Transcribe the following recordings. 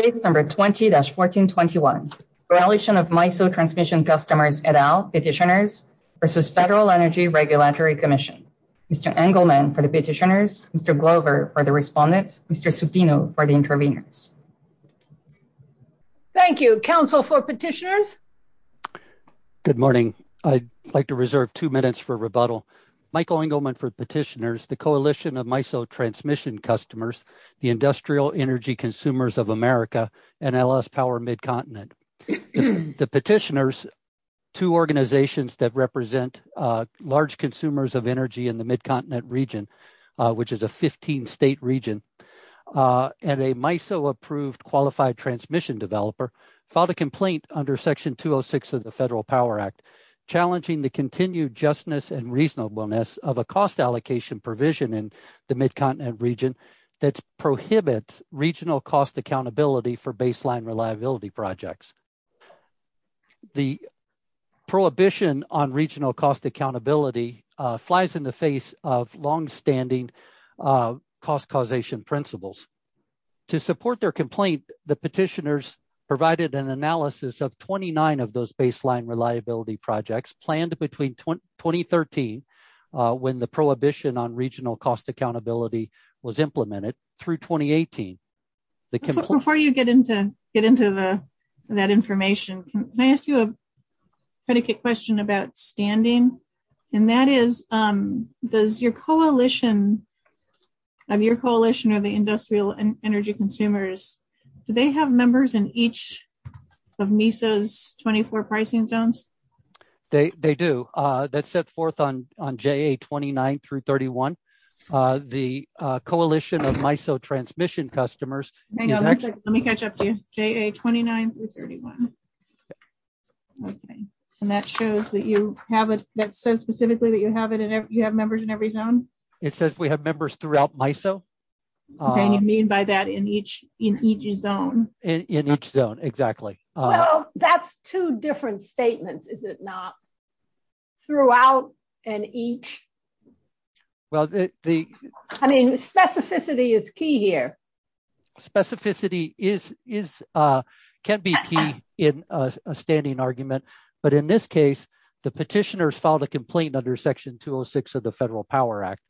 20-1421 Coalition of MISO Transmission Customers et al. Petitioners v. Federal Energy Regulatory Commission Mr. Engelman for the petitioners, Mr. Glover for the respondents, Mr. Subdino for the intervenors. Thank you. Council for petitioners. Good morning. I'd like to reserve two minutes for rebuttal. Michael Engelman for petitioners, the Coalition of MISO Transmission Customers, the Industrial Energy Consumers of America, and L.S. Power Mid-Continent. The petitioners, two organizations that represent large consumers of energy in the Mid-Continent region, which is a 15-state region, and a MISO-approved qualified transmission developer filed a complaint under Section 206 of the Federal Power Act challenging the continued justness and reasonableness of a cost allocation provision in the Mid-Continent region that prohibits regional cost accountability for baseline reliability projects. The prohibition on regional cost accountability flies in the face of longstanding cost causation principles. To support their complaint, the petitioners provided an analysis of 29 of those baseline reliability projects planned between 2013, when the prohibition on regional cost accountability was implemented, through 2018. Before you get into that information, can I ask you a predicate question about standing? And that is, does your coalition or the Industrial Energy Consumers, do they have members in each of MISO's 24 pricing zones? They do. That's set forth on JA-29 through 31. The Coalition of MISO Transmission Customers – Let me catch up to you. JA-29 through 31. And that shows that you have – that says specifically that you have members in every zone? It says we have members throughout MISO. And you mean by that in each zone? In each zone, exactly. Well, that's two different statements, is it not? Throughout and each? Well, the – I mean, specificity is key here. Specificity is – can be key in a standing argument. But in this case, the petitioners filed a complaint under Section 206 of the Federal Power Act.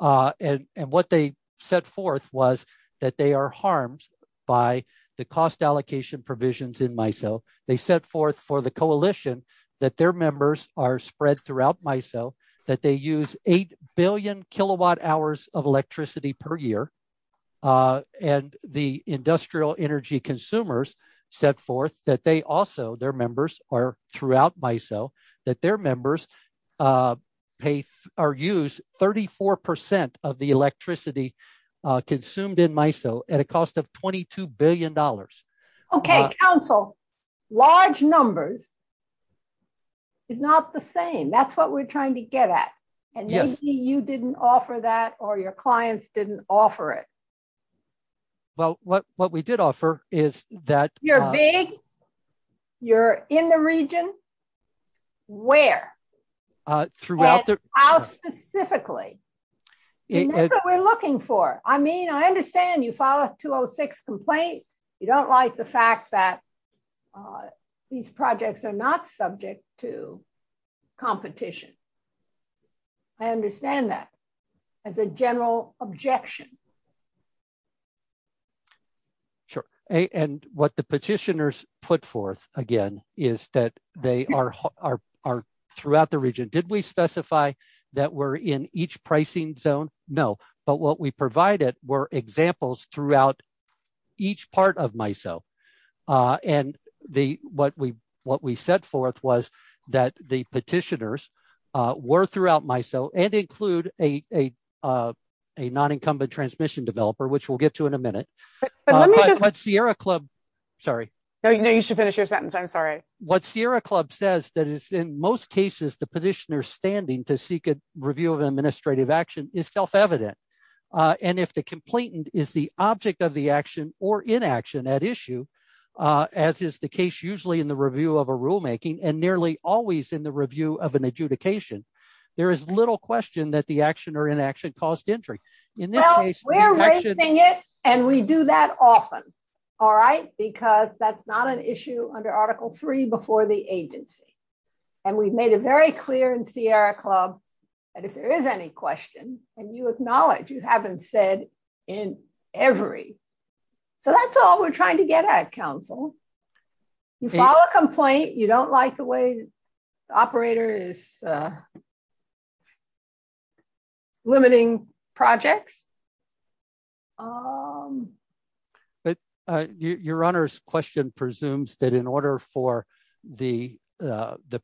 And what they set forth was that they are harmed by the cost allocation provisions in MISO. They set forth for the coalition that their members are spread throughout MISO, that they use 8 billion kilowatt hours of electricity per year. And the Industrial Energy Consumers set forth that they also – their members are throughout MISO, that their members pay – or use 34 percent of the electricity consumed in MISO at a cost of $22 billion. OK, counsel. Large numbers is not the same. That's what we're trying to get at. And maybe you didn't offer that or your clients didn't offer it. Well, what we did offer is that – You're big. You're in the region. Where? Throughout the – And how specifically? And that's what we're looking for. I mean, I understand you filed a 206 complaint. You don't like the fact that these projects are not subject to competition. I understand that as a general objection. Sure. And what the petitioners put forth, again, is that they are throughout the region. Did we specify that we're in each pricing zone? No. But what we provided were examples throughout each part of MISO. And what we set forth was that the petitioners were throughout MISO and include a non-incumbent transmission developer, which we'll get to in a minute. But Sierra Club – sorry. No, you should finish your sentence. I'm sorry. What Sierra Club says that it's in most cases the petitioner standing to seek a review of administrative action is self-evident. And if the complainant is the object of the action or inaction at issue, as is the case usually in the review of a rulemaking and nearly always in the review of an adjudication, there is little question that the action or inaction caused injury. Well, we're raising it and we do that often, all right, because that's not an issue under Article III before the agency. And we've made it very clear in Sierra Club that if there is any question, then you acknowledge you haven't said in every. So that's all we're trying to get at, counsel. You file a complaint, you don't like the way the operator is limiting projects. Your Honor's question presumes that in order for the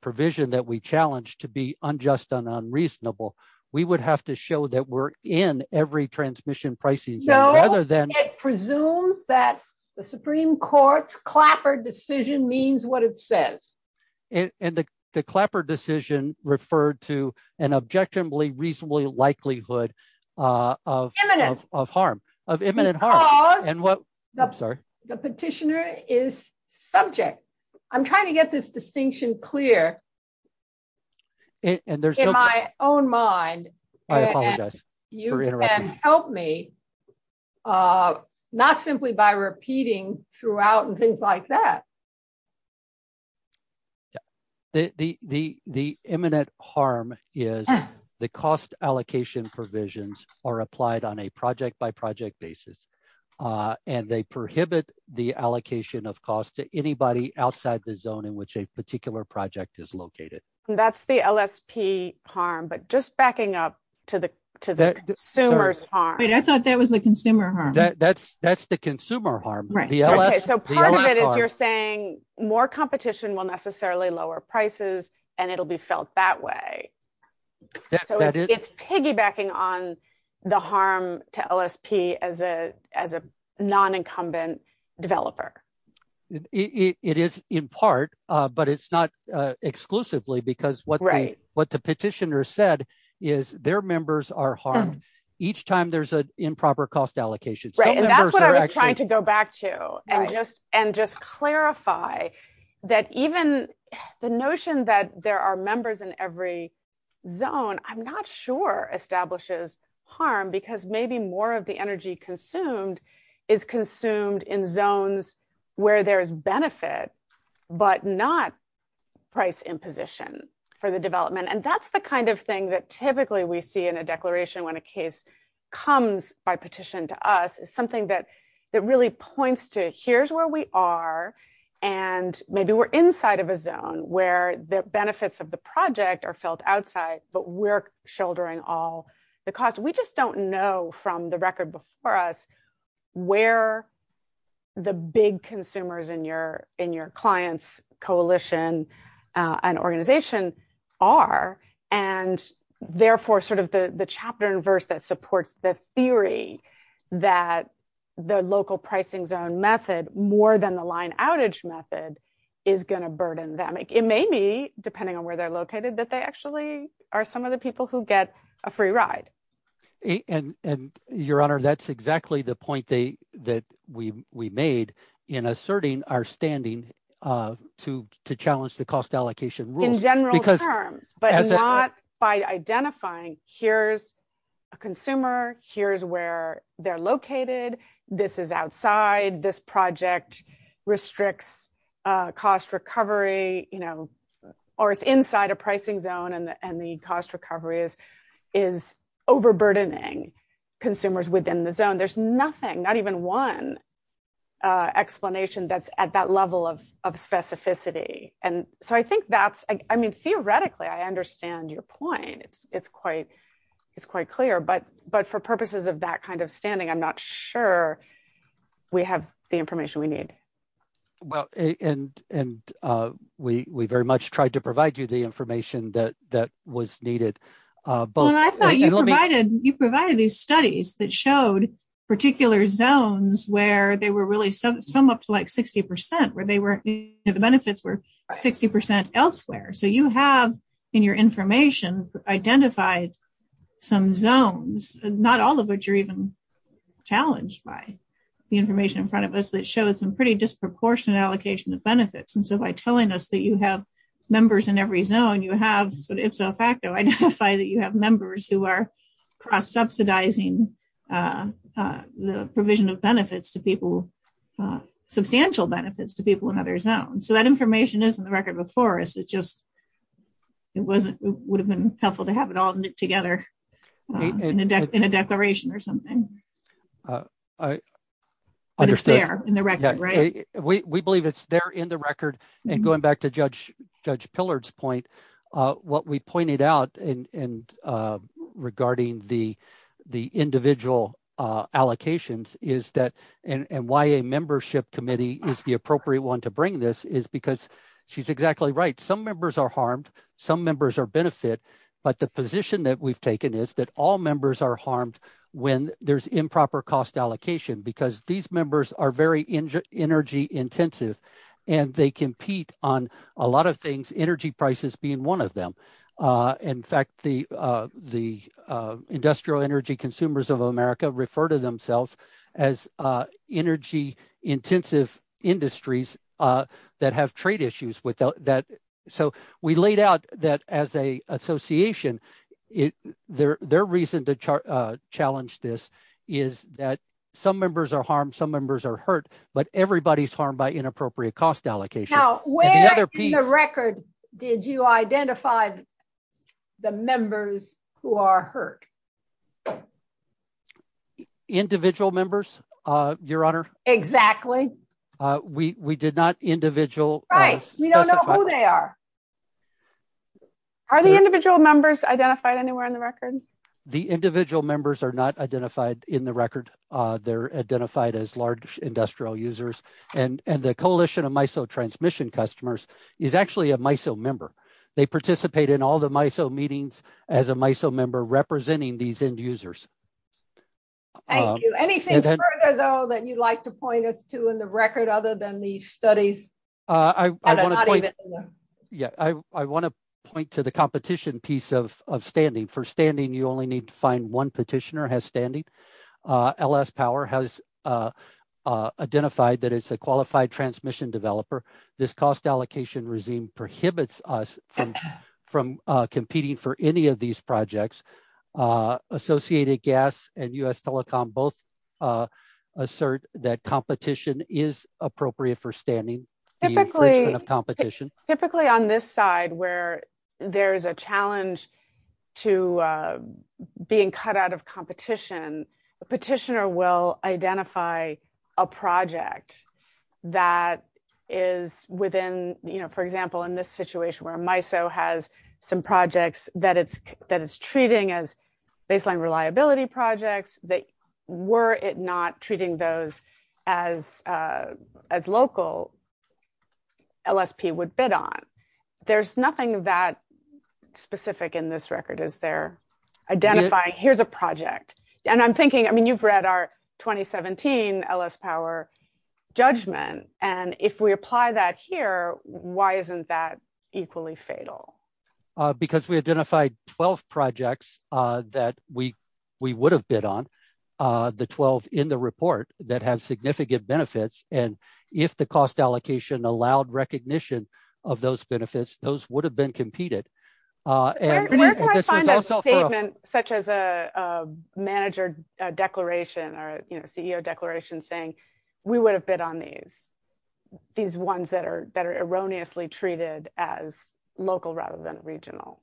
provision that we challenge to be unjust and unreasonable, we would have to show that we're in every transmission pricing. No, it presumes that the Supreme Court's Clapper decision means what it says. And the Clapper decision referred to an objectively reasonably likelihood of harm, of imminent harm. Because the petitioner is subject. I'm trying to get this distinction clear In my own mind, you can help me, not simply by repeating throughout and things like that. The imminent harm is the cost allocation provisions are applied on a project by project basis. And they prohibit the allocation of cost to anybody outside the zone in which a particular project is located. That's the LSP harm, but just backing up to the consumer's harm. Wait, I thought that was the consumer harm. That's the consumer harm. So part of it is you're saying more competition will necessarily lower prices, and it'll be felt that way. So it's piggybacking on the harm to LSP as a non-incumbent developer. It is in part, but it's not exclusively because what the petitioner said is their members are harmed each time there's an improper cost allocation. Right, and that's what I was trying to go back to and just clarify that even the notion that there are members in every zone, I'm not sure establishes harm because maybe more of the energy consumed is consumed in zones where there's benefit, but not price imposition for the development. And that's the kind of thing that typically we see in a declaration when a case comes by petition to us is something that really points to it. Here's where we are, and maybe we're inside of a zone where the benefits of the project are felt outside, but we're shouldering all the costs. We just don't know from the record before us where the big consumers in your client's coalition and organization are. And therefore, sort of the chapter and verse that supports the theory that the local pricing zone method more than the line outage method is going to burden them. It may be, depending on where they're are some of the people who get a free ride. And your honor, that's exactly the point that we made in asserting our standing to challenge the cost allocation rules. In general terms, but not by identifying here's a consumer, here's where they're located, this is outside, this project restricts cost recovery, or it's inside a pricing zone and the cost recovery is overburdening consumers within the zone. There's nothing, not even one explanation that's at that level of specificity. And so I think that's, I mean, theoretically, I understand your point. It's quite clear, but for purposes of that kind of standing, I'm not sure we have the information we need. Well, and we very much tried to provide you the information that was needed. Well, I thought you provided these studies that showed particular zones where they were really some up to like 60% where they weren't, the benefits were 60% elsewhere. So you have in your information, identified some zones, not all of which are even challenged by the information in front of us that shows some pretty disproportionate allocation of benefits. And so by telling us that you have members in every zone, you have sort of ifso facto identify that you have members who are cross subsidizing the provision of benefits to people, substantial benefits to people in other zones. So that information is in the record before us. It's just, it wasn't, it would have been helpful to have it all knit together in a declaration or something. We believe it's there in the record. And going back to Judge Pillard's point, what we pointed out and regarding the individual allocations is that, and why a membership committee is the appropriate one to bring this is because she's exactly right. Some members are harmed, some members are benefit, but the position that we've taken is that all members are harmed when there's improper cost allocation, because these members are very energy intensive and they compete on a lot of things, energy prices being one of them. In fact, the industrial energy consumers of America refer to themselves as energy intensive industries that have trade issues with that. So we laid out that as a association, their reason to challenge this is that some members are harmed, some members are hurt, but everybody's harmed by inappropriate cost allocation. Now, where in the record did you identify the members who are hurt? Individual members, Your Honor. Exactly. We did not individual. Right, we don't know who they are. Are the individual members identified anywhere in the record? The individual members are not identified in the record. They're identified as large industrial users and the Coalition of MISO Transmission Customers is actually a MISO member. They participate in all the MISO meetings as a MISO member representing these end users. Thank you. Anything further, though, that you'd like to point us to in the record other than the studies? Yeah, I want to point to the competition piece of standing. For standing, you only need to find one petitioner has standing. LS Power has identified that it's a qualified transmission developer. This cost allocation regime prohibits us from competing for any of these projects. Associated Gas and U.S. Telecom both assert that competition is appropriate for standing. Typically, on this side where there is a challenge to being cut out of competition, a petitioner will identify a project that is within, for example, in this situation where MISO has some projects that it's treating as baseline reliability projects. Were it not treating those as local, LSP would bid on. There's nothing that specific in this record, is there, identifying here's a project. I'm thinking, I mean, you've read our 2017 LS Power judgment. If we apply that here, why isn't that equally fatal? Because we identified 12 projects that we would have bid on, the 12 in the report that have significant benefits. If the cost allocation allowed recognition of those benefits, those would have been competed. Where can I find a statement such as a manager declaration or CEO declaration saying we would have bid on these? These ones that are erroneously treated as local rather than regional.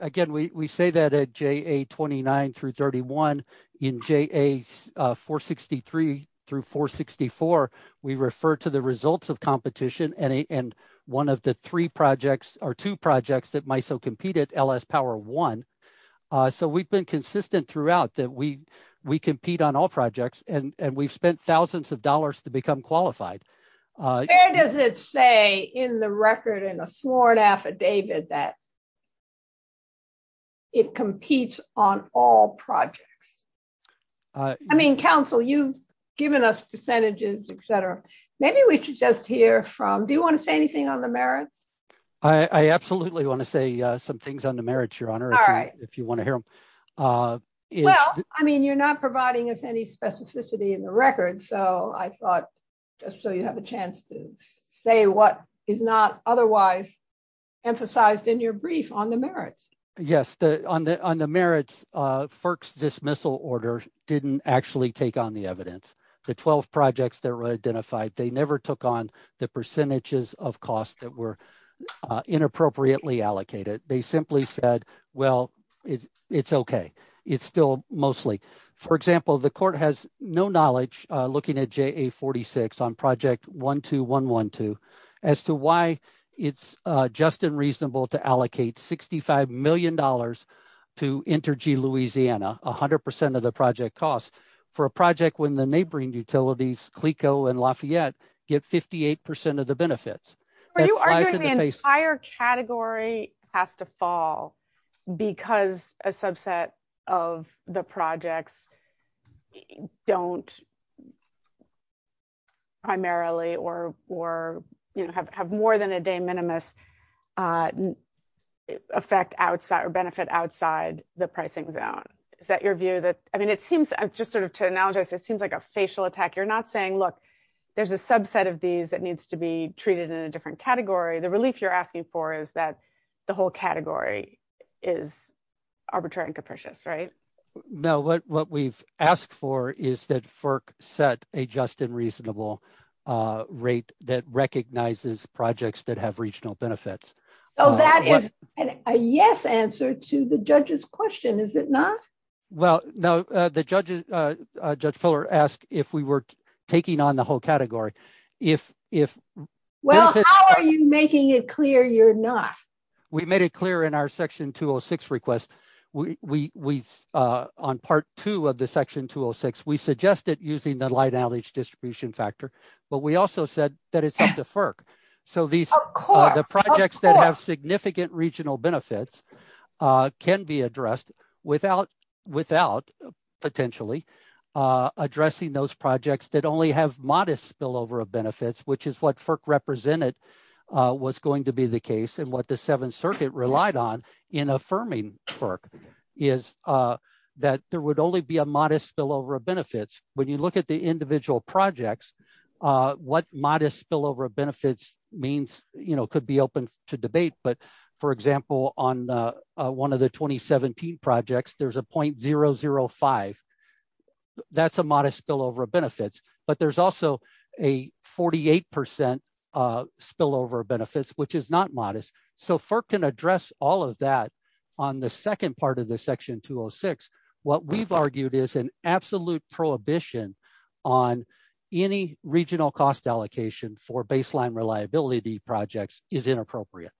Again, we say that at JA 29 through 31. In JA 463 through 464, we refer to the projects that MISO competed, LS Power 1. We've been consistent throughout that we compete on all projects, and we've spent thousands of dollars to become qualified. Where does it say in the record, in the sworn affidavit, that it competes on all projects? I mean, counsel, you've given us percentages, etc. Maybe we absolutely want to say some things on the merits, Your Honor, if you want to hear them. I mean, you're not providing us any specificity in the record, so I thought just so you have a chance to say what is not otherwise emphasized in your brief on the merits. Yes, on the merits, FERC's dismissal order didn't actually take on the evidence. The 12 projects that were identified, they never took on the percentages of costs that were inappropriately allocated. They simply said, well, it's okay. It's still mostly. For example, the court has no knowledge looking at JA 46 on project 12112 as to why it's just and reasonable to allocate $65 million to InterG Louisiana, 100% of the project cost, for a project when the neighboring utilities, Clico and Lafayette, get 58% of the benefits. Are you arguing the entire category have to fall because a subset of the projects don't primarily or have more than a de minimis benefit outside the pricing zone? Is that your view? I mean, it seems, just sort of to analogize, it seems like a facial attack. You're not saying, look, there's a subset of these that needs to be treated in a different category. The relief you're asking for is that the whole category is arbitrary and capricious, right? No, what we've asked for is that FERC set a just and reasonable rate that recognizes projects that have regional benefits. So that is a yes answer to the judge's question, is it not? Well, no, Judge Fuller asked if we were taking on the whole category. Well, how are you making it clear you're not? We made it clear in our section 206 request, we on part two of the section 206, we suggested using the light outage distribution factor, but we also said that it's up to FERC. So the projects that have significant regional benefits can be addressed without potentially addressing those projects that only have modest spillover of benefits, which is what FERC represented was going to be the case and what the Seventh Circuit relied on in affirming FERC is that there would only be a modest spillover of benefits. When you look at the individual projects, what modest spillover of benefits means could be open to debate, but for example, on one of the 2017 projects, there's a 0.005. That's a modest spillover of benefits, but there's also a 48% spillover of benefits, which is not modest. So FERC can address all of that on the second part of the section 206. What we've argued is an absolute prohibition on any regional cost allocation for baseline reliability projects is inappropriate.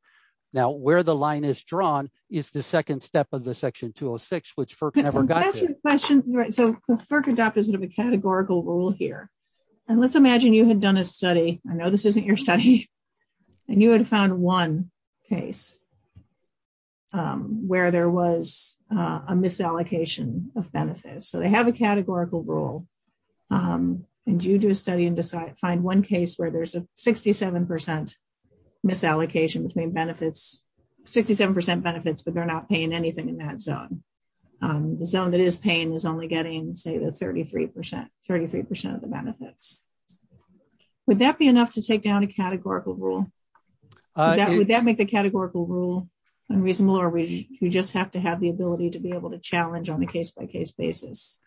Now, where the line is drawn is the second step of the section 206, which FERC never got to. So FERC adopted a categorical rule here, and let's imagine you had done a study. I know this isn't your study, and you had found one case where there was a misallocation of benefits. So they have a categorical rule, and you do a study and find one case where there's a 67% misallocation between benefits, 67% benefits, but they're not paying anything in that zone. The zone that is paying is only getting, say, the 33% of the benefit. Would that be enough to take down a categorical rule? Would that make the categorical rule unreasonable, or we just have to have the ability to be able to challenge on a case-by-case basis?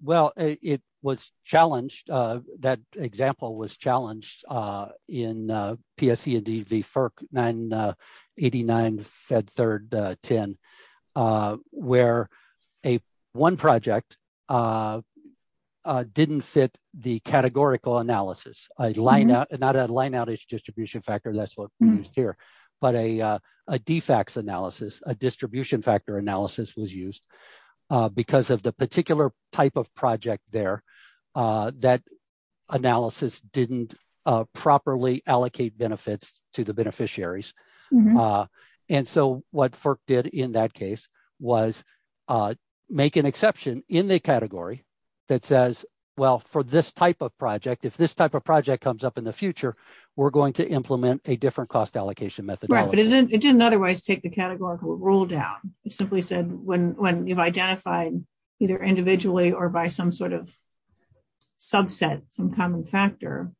Well, it was challenged. That example was challenged in PSEDV FERC 989, Fed Third 10, where one project didn't fit the categorical analysis. Not a line outage distribution factor, that's what we used here, but a DFAX analysis, a distribution factor analysis was used because of the particular type of project there. That analysis didn't properly allocate benefits to the beneficiaries, and so what FERC did in that case was make an exception in the category that says, well, for this type of project, if this type of project comes up in the future, we're going to implement a different cost allocation methodology. It didn't otherwise take the categorical rule down. It simply said when you've identified either individually or by some sort of subset, some common factor,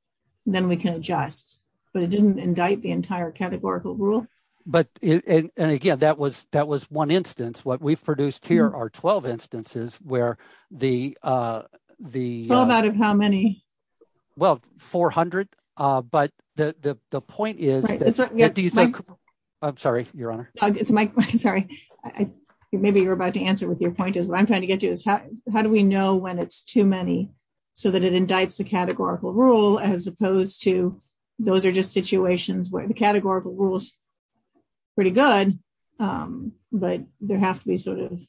then we can adjust, but it didn't indict the entire categorical rule. But, and again, that was one instance. What we've produced here are 12 instances where the... Twelve out of how many? Well, 400, but the point is... I'm sorry, Your Honor. It's my, sorry. Maybe you're about to answer with your point. What I'm trying to get to is how do we know when it's too many so that it indicts the categorical rule as opposed to those are just situations where the categorical rule is pretty good, but there have to be sort of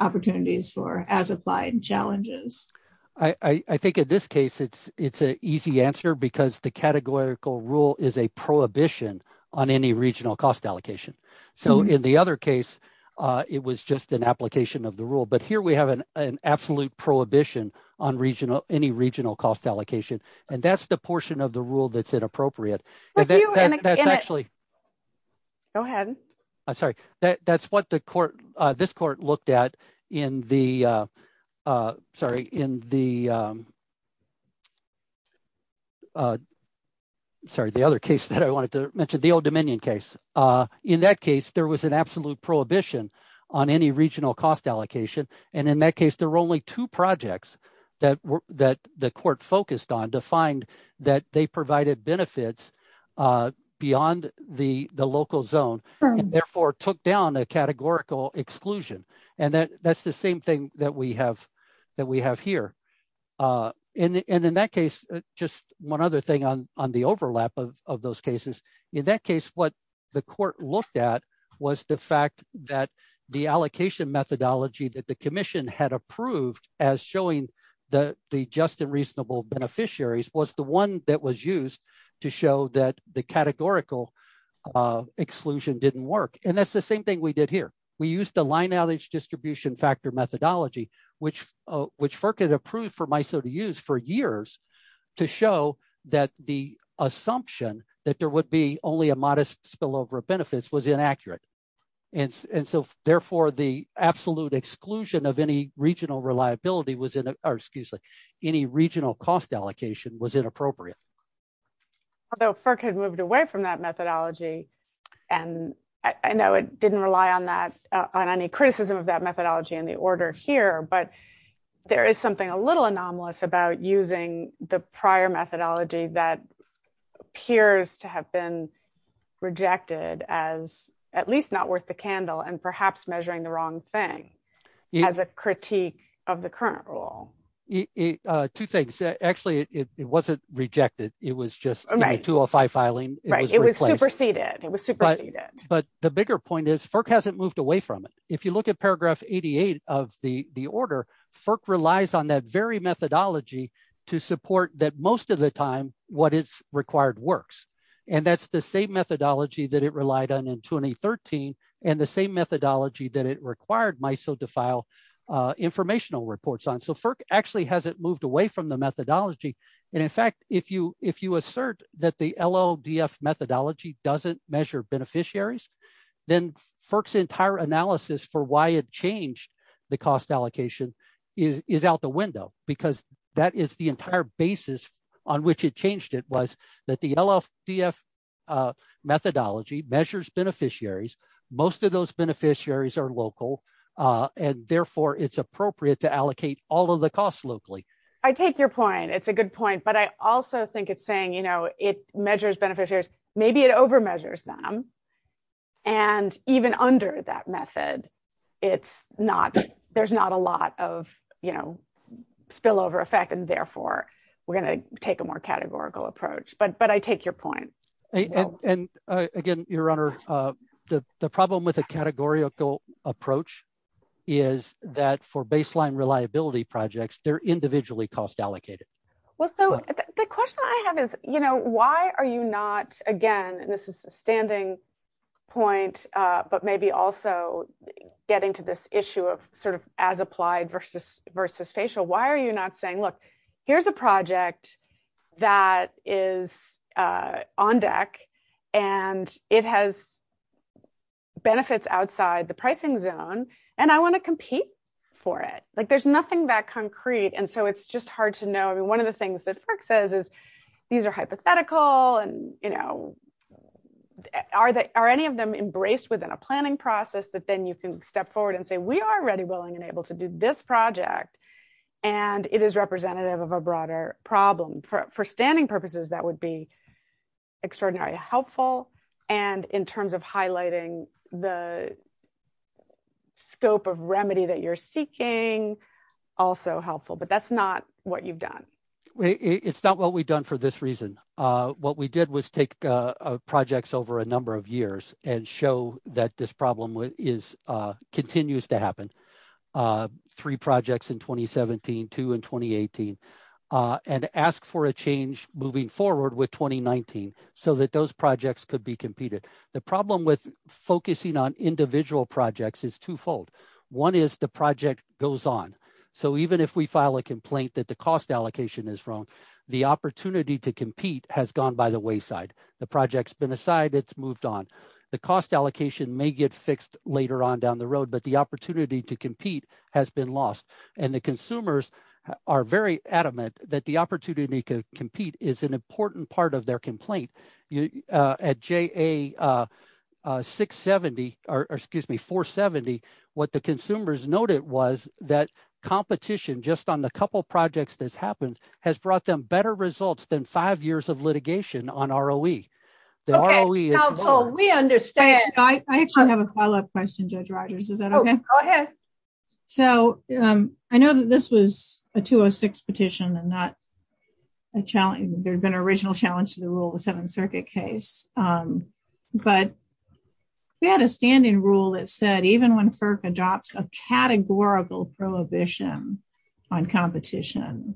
opportunities for as-applied challenges. I think in this case, it's an easy answer because the categorical rule is a prohibition on any regional cost allocation. So, in the other case, it was just an application of the rule, but here we have an absolute prohibition on any regional cost allocation, and that's the portion of the rule that's inappropriate. Go ahead. I'm sorry. That's what the court, this court looked at in the, sorry, in the... Sorry, the other case that I wanted to mention, the Old Dominion case. In that case, there was absolute prohibition on any regional cost allocation, and in that case, there were only two projects that the court focused on to find that they provided benefits beyond the local zone and therefore took down a categorical exclusion, and that's the same thing that we have here. And in that case, just one other thing on the overlap of those cases. In that case, what the fact that the allocation methodology that the commission had approved as showing the just and reasonable beneficiaries was the one that was used to show that the categorical exclusion didn't work, and that's the same thing we did here. We used the line outage distribution factor methodology, which FERC had approved for MISO to use for years to show that the assumption that there would be only a modest spillover of benefits was inaccurate. And so therefore, the absolute exclusion of any regional reliability was, or excuse me, any regional cost allocation was inappropriate. Although FERC has moved away from that methodology, and I know it didn't rely on that, on any criticism of that methodology in the order here, but there is something a little anomalous about using the prior methodology that appears to have been rejected as at least not worth the candle and perhaps measuring the wrong thing as a critique of the current rule. Two things. Actually, it wasn't rejected. It was just a 205 filing. Right. It was superseded. It was superseded. But the bigger point is FERC hasn't moved away from it. If you look at paragraph 88 of the order, FERC relies on that very methodology to support that most of the time what is required works. And that's the same methodology that it relied on in 2013 and the same methodology that it required MISO to file informational reports on. So FERC actually hasn't moved away from the methodology. And in fact, if you assert that the LLDF methodology doesn't measure beneficiaries, then FERC's entire analysis for why it changed the cost allocation is out the window because that is the entire basis on which it changed it was that the LLDF methodology measures beneficiaries. Most of those beneficiaries are local, and therefore it's appropriate to allocate all of the costs locally. I take your point. It's a good point. But I also think it's saying, you know, it measures beneficiaries, maybe it over measures them. And even under that method, it's not, there's not a lot of, you know, spillover effect. And therefore, we're going to take a more categorical approach. But I take your point. And again, Your Honor, the problem with a categorical approach is that for baseline reliability projects, they're individually cost allocated. Well, so the question I have is, you know, why are you not again, and this is the standing point, but maybe also getting to this issue of sort of as applied versus facial, why are you not saying, look, here's a project that is on deck, and it has benefits outside the pricing zone, and I want to compete for it. Like there's nothing that one of the things that says is, these are hypothetical, and you know, are they are any of them embraced within a planning process that then you can step forward and say, we are ready, willing and able to do this project. And it is representative of a broader problem for standing purposes, that would be extraordinarily helpful. And in terms of highlighting the scope of remedy that you're seeking, also helpful, but that's not what we've done. It's not what we've done for this reason. What we did was take projects over a number of years and show that this problem is continues to happen. Three projects in 2017, two in 2018, and ask for a change moving forward with 2019, so that those projects could be competed. The problem with focusing on individual projects is twofold. One is the project goes on. So even if we file a complaint that the cost allocation is wrong, the opportunity to compete has gone by the wayside. The project's been assigned, it's moved on. The cost allocation may get fixed later on down the road, but the opportunity to compete has been lost. And the consumers are very adamant that the opportunity to compete is an important part of their complaint. At JA-470, what the consumers noted was that competition just on the couple projects that happened has brought them better results than five years of litigation on ROE. Okay, counsel, we understand. I actually have a follow-up question, Judge Rodgers. Is that okay? Go ahead. So I know that this was a 206 petition and not a challenge. There's been original challenge to the rule, the Seventh Circuit case. But we had a standing rule that said even when FERC adopts a categorical prohibition on competition,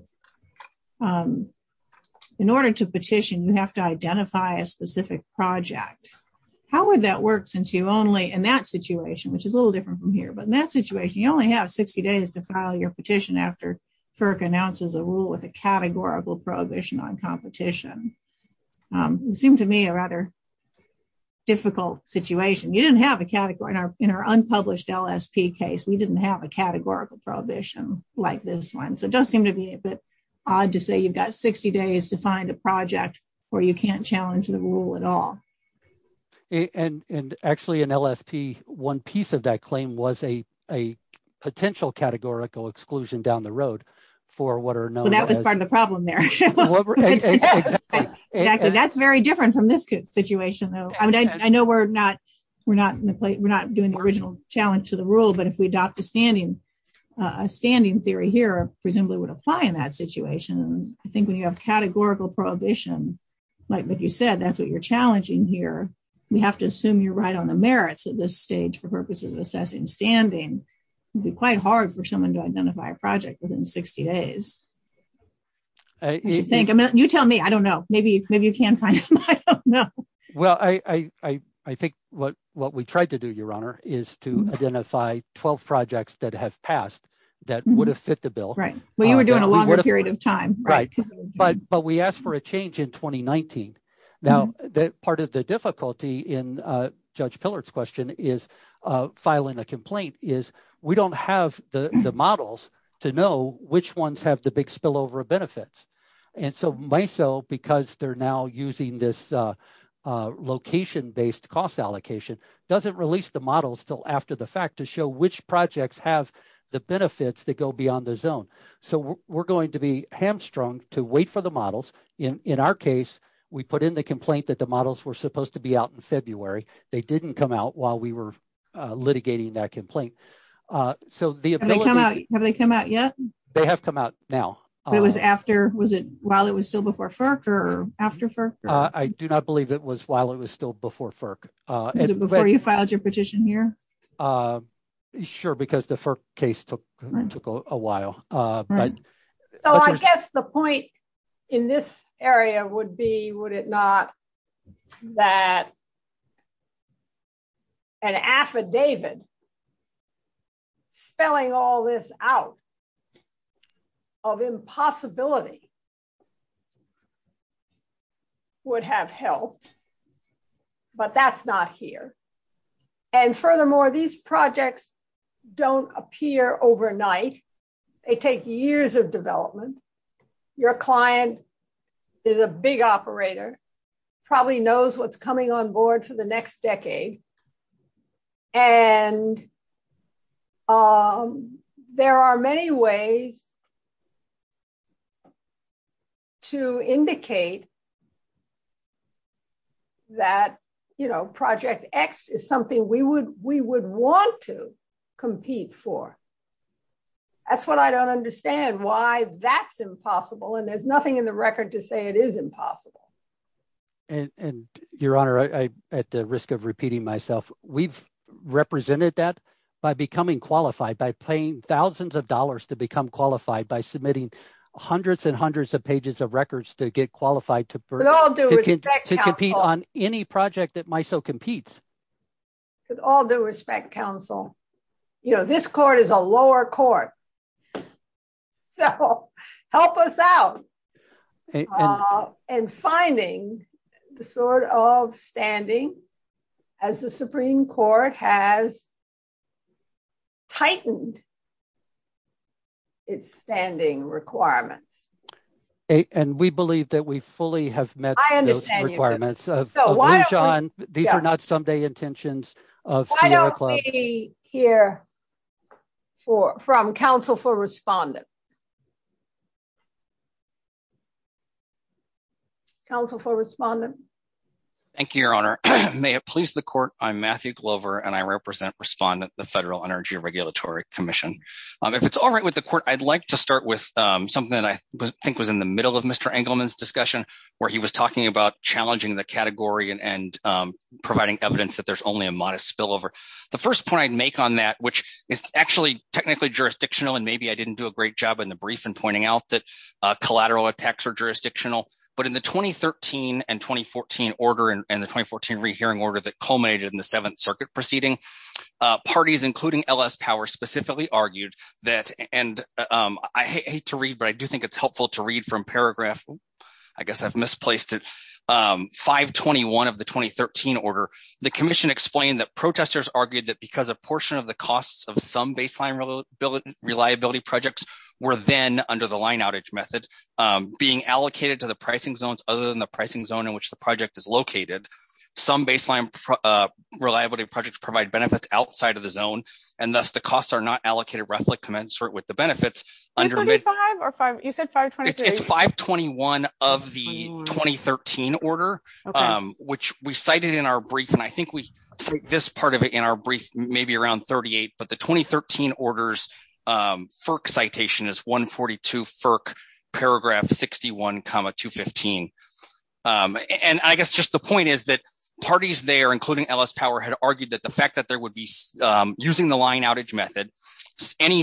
in order to petition, you have to identify a specific project. How would that work since you only, in that situation, which is a little different from here, but in that situation, you only have 60 days to file your petition after FERC announces a rule with a categorical prohibition on competition. It seemed to me a rather difficult situation. In our unpublished LSP case, we didn't have a categorical prohibition like this one. So it does seem to be a bit odd to say you've got 60 days to find a project where you can't challenge the rule at all. And actually in LSP, one piece of that down the road. That was part of the problem there. That's very different from this situation though. I know we're not doing the original challenge to the rule, but if we adopt a standing theory here, presumably would apply in that situation. I think when you have categorical prohibition, like what you said, that's what you're challenging here. You have to assume you're right on the merits of this stage for purposes of assessing standing. It'd be quite hard for someone to identify a project within 60 days. You tell me. I don't know. Maybe you can find some. I don't know. Well, I think what we tried to do, Your Honor, is to identify 12 projects that have passed that would have fit the bill. Right. Well, you were doing a longer period of time. Right. But we asked for a change in 2019. Now, part of the difficulty in Judge Pillard's question is filing a complaint is we don't have the models to know which ones have the big spillover benefits. And so MISO, because they're now using this location-based cost allocation, doesn't release the models until after the fact to show which projects have the benefits that go beyond the zone. So we're going to be hamstrung to wait for the models. In our case, we put in a complaint that the models were supposed to be out in February. They didn't come out while we were litigating that complaint. Have they come out yet? They have come out now. It was after, was it while it was still before FERC or after FERC? I do not believe it was while it was still before FERC. Is it before you filed your petition here? Sure, because the FERC case took a while. So I guess the point in this area would be, would it not, that an affidavit spelling all this out of impossibility would have helped, but that's not here. And furthermore, these projects don't appear overnight. They take years of development. Your client is a big operator, probably knows what's coming on board for the next decade. And there are many ways to indicate that, you know, Project X is something we would want to compete for. That's what I don't understand, why that's impossible. And there's nothing in the record to say it is impossible. And Your Honor, at the risk of repeating myself, we've represented that by becoming qualified, by paying thousands of dollars to become qualified, by submitting hundreds and hundreds of pages of to compete on any project that might so compete. With all due respect, counsel, you know, this court is a lower court. So help us out in finding the sort of standing as the Supreme Court has tightened its standing requirements. And we believe that we fully have met those requirements. These are not Sunday intentions. Why don't we hear from counsel for respondent. Counsel for respondent. Thank you, Your Honor. May it please the court, I'm Matthew Glover, and I represent respondent, the Federal Energy Regulatory Commission. If it's all right with the court, I'd like to start with something that I think was in the middle of Mr. Engleman's discussion, where he was talking about challenging the category and providing evidence that there's only a modest spillover. The first point I'd make on that, which is actually technically jurisdictional, and maybe I didn't do a great job in the brief and pointing out that collateral attacks are jurisdictional. But in the 2013 and 2014 order, and the 2014 rehearing order that culminated in the Seventh Circuit proceeding, parties including LS Power specifically argued that, and I hate to read, but I do think it's helpful to read from paragraph, I guess I've misplaced it, 521 of the 2013 order. The commission explained that protesters argued that because a portion of the costs of some baseline reliability projects were then under the line outage method, being allocated to the pricing zones other than the pricing zone in which the project is located, some baseline reliability projects provide benefits outside of the zone, and thus the costs are not allocated roughly commensurate with the benefits. It's 521 of the 2013 order, which we cited in our brief, and I think we take this part of it in our brief maybe around 38, but the 2013 order's FERC citation is 142 FERC paragraph 61, 215. And I guess just the point is that parties there, including LS Power, had argued that the fact that using the line outage method, any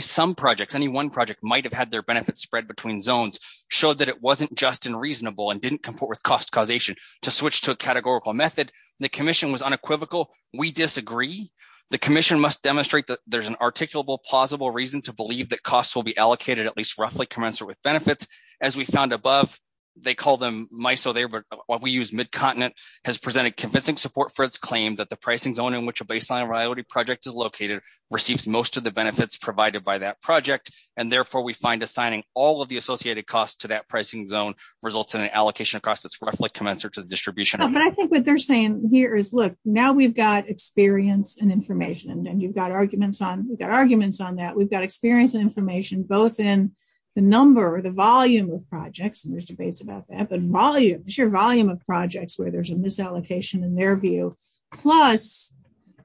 one project might have had their benefits spread between zones showed that it wasn't just and reasonable and didn't comport with cost causation. To switch to a categorical method, the commission was unequivocal. We disagree. The commission must demonstrate that there's an articulable, plausible reason to believe that costs will be allocated at least roughly commensurate with benefits. As we found above, they call them MISO, what we use mid-continent, has presented convincing support for its claim that the pricing zone in which a baseline priority project is located receives most of the benefits provided by that project, and therefore we find assigning all of the associated costs to that pricing zone results in an allocation of costs that's roughly commensurate to the distribution. But I think what they're saying here is, look, now we've got experience and information, and you've got arguments on, we've got arguments on that. We've got experience and information both in the number, the volume of projects, and there's debates about that, but the sheer volume of projects where there's a misallocation in their view, plus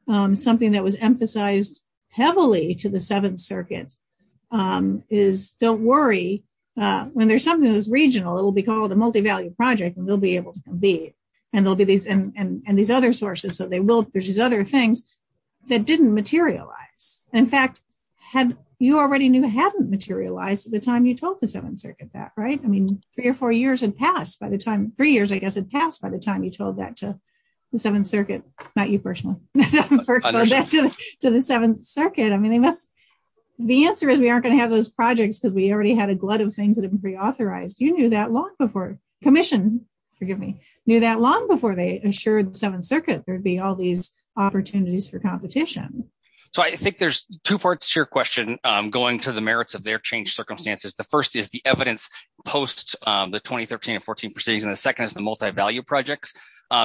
something that was emphasized heavily to the Seventh Circuit is, don't worry, when there's something that's regional, it'll be called a multivalued project, and they'll be able to compete, and there'll be these, and these other sources, so they will, there's these other things that didn't materialize. In fact, you already knew it hadn't materialized at the time you told the Seventh Circuit that, I mean, three or four years had passed by the time, three years, I guess, had passed by the time you told that to the Seventh Circuit, not you personally, to the Seventh Circuit. I mean, the answer is we aren't going to have those projects because we already had a glut of things that have been pre-authorized. You knew that long before, Commission, forgive me, knew that long before they assured the Seventh Circuit there'd be all these opportunities for competition. So, I think there's two parts to your question going to the merits of their circumstances. The first is the evidence post the 2013 and 14 proceedings, and the second is the multivalued projects.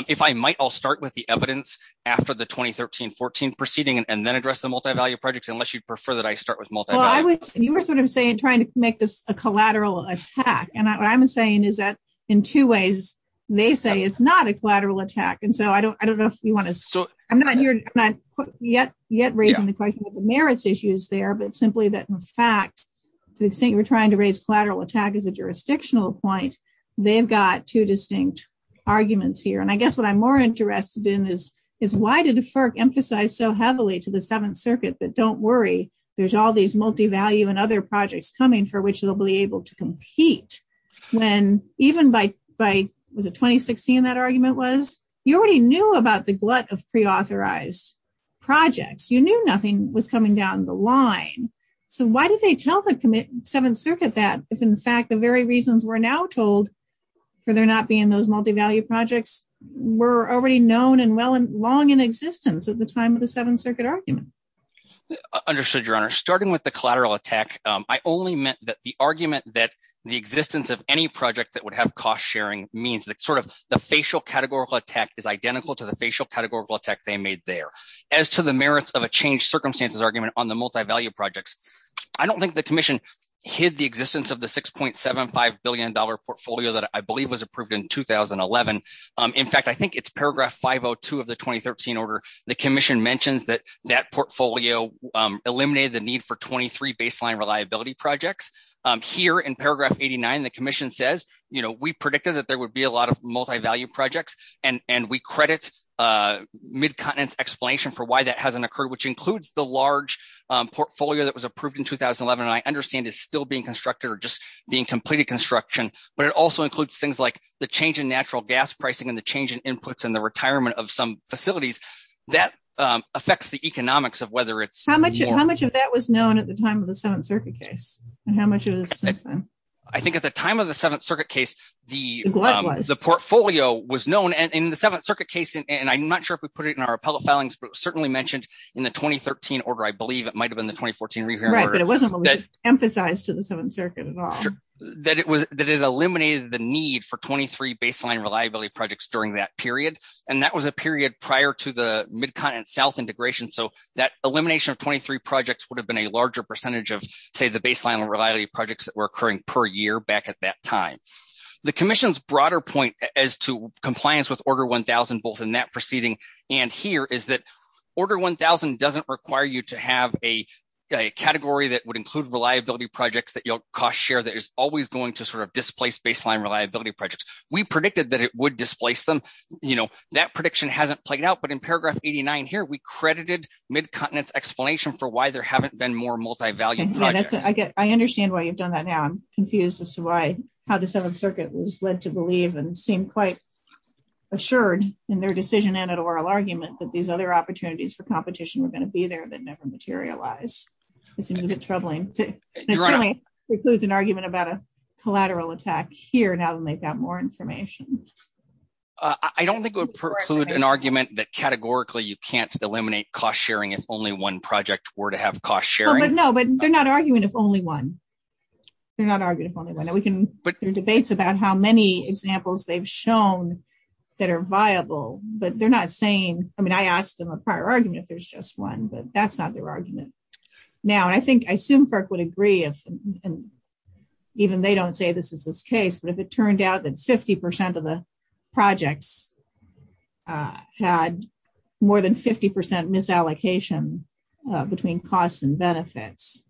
If I might, I'll start with the evidence after the 2013-14 proceeding and then address the multivalued projects, unless you'd prefer that I start with multivalued. You were sort of saying, trying to make this a collateral attack, and what I'm saying is that, in two ways, they say it's not a collateral attack, and so I don't know if you want to, I'm not here, I'm not yet, yet raising the question of the merits issues there, but simply that, in fact, they think we're trying to raise collateral attack as a jurisdictional point. They've got two distinct arguments here, and I guess what I'm more interested in is why did the FERC emphasize so heavily to the Seventh Circuit that, don't worry, there's all these multivalued and other projects coming for which they'll be able to compete, when even by, was it 2016 that argument was? You already knew about the glut of pre-authorized projects. You knew was coming down the line, so why did they tell the Seventh Circuit that if, in fact, the very reasons we're now told, for there not being those multivalued projects, were already known and well and long in existence at the time of the Seventh Circuit argument? Understood, Your Honor. Starting with the collateral attack, I only meant that the argument that the existence of any project that would have cost-sharing means that, sort of, the facial categorical attack is identical to the facial categorical attack they made there. As to the merits of a changed circumstances argument on the multivalued projects, I don't think the Commission hid the existence of the $6.75 billion portfolio that I believe was approved in 2011. In fact, I think it's paragraph 502 of the 2013 order. The Commission mentions that that portfolio eliminated the need for 23 baseline reliability projects. Here, in paragraph 89, the Commission says, you know, we predicted that there would be a lot of occurred, which includes the large portfolio that was approved in 2011, and I understand it's still being constructed or just being completed construction, but it also includes things like the change in natural gas pricing and the change in inputs and the retirement of some facilities. That affects the economics of whether it's... How much of that was known at the time of the Seventh Circuit case? I think at the time of the Seventh Circuit case, the portfolio was known, and in the Seventh Circuit case, and I'm not sure if we put it in our appellate filings, but it was certainly mentioned in the 2013 order. I believe it might have been the 2014 review order. Right, but it wasn't really emphasized to the Seventh Circuit at all. That it eliminated the need for 23 baseline reliability projects during that period, and that was a period prior to the MidCon and South integration, so that elimination of 23 projects would have been a larger percentage of, say, the baseline reliability projects that were order 1000, both in that proceeding and here, is that order 1000 doesn't require you to have a category that would include reliability projects that cost share that is always going to sort of displace baseline reliability projects. We predicted that it would displace them. That prediction hasn't played out, but in paragraph 89 here, we credited MidContinent's explanation for why there haven't been more multivalued projects. I understand why you've done that now. I'm confused as to how the Seventh Circuit was led to believe and seem quite assured in their decision and at oral argument that these other opportunities for competition were going to be there that never materialized. It seems a bit troubling. It certainly precludes an argument about a collateral attack here now that they've got more information. I don't think it would preclude an argument that categorically you can't eliminate cost sharing if only one project were to have cost sharing. No, but they're not arguing if only one. They're not arguing if only one. We can put through debates about how many examples they've shown that are viable, but they're not saying, I mean, I asked them a prior argument if there's just one, but that's not their argument. Now, I think, I assume Burke would agree if, even they don't say this is this case, but if it turned out that 50% of the projects had more than 50% misallocation between costs and benefits,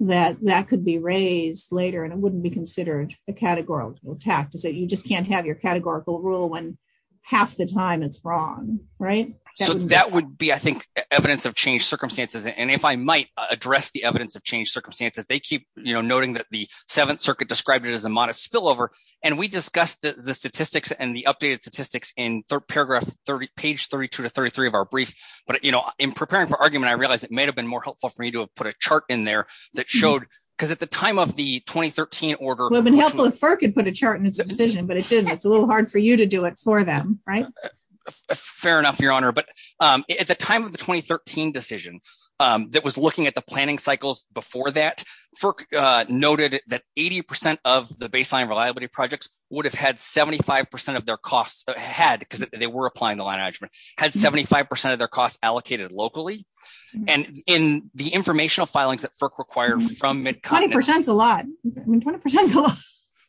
that that could be raised later, and it wouldn't be considered a categorical attack. You just can't have your categorical rule when half the time it's wrong, right? So, that would be, I think, evidence of changed circumstances, and if I might address the evidence of changed circumstances, they keep, you know, noting that the Seventh Circuit described it as a modest spillover, and we discussed the statistics and the updated statistics in paragraph 30, page 32 to 33 of our brief, but, you know, in preparing for argument, I realized it may have been more helpful for you to have put a chart in there that showed, because at the time of the 2013 order... Well, then Helpless Burke could put a chart but it's a little hard for you to do it for them, right? Fair enough, Your Honor, but at the time of the 2013 decision that was looking at the planning cycles before that, Burke noted that 80% of the baseline reliability projects would have had 75% of their costs, had, because they were applying the line adjustment, had 75% of their costs allocated locally, and in the informational filings that Burke required from... 20% is a lot, 20% is a lot.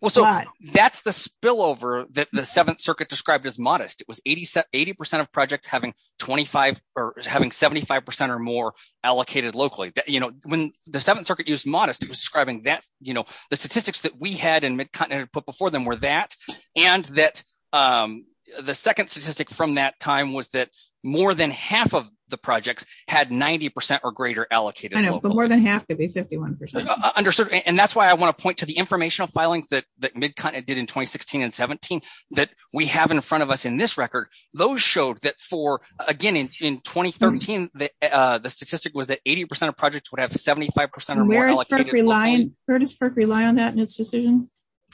Well, so, that's the spillover that the Seventh Circuit described as modest. It was 80% of projects having 25, or having 75% or more allocated locally. You know, when the Seventh Circuit used modest, it was describing that, you know, the statistics that we had and McConnett had put before them were that, and that the second statistic from that time was that more than half of the projects had 90% or greater allocated. I know, but more than half could be 51%. Understood, and that's why I want to point to the informational filings that McConnett did in 2016 and 17 that we have in front of us in this record. Those showed that for, again, in 2013, the statistic was that 80% of projects would have 75% or more allocated. Where does Burke rely on that in its decision?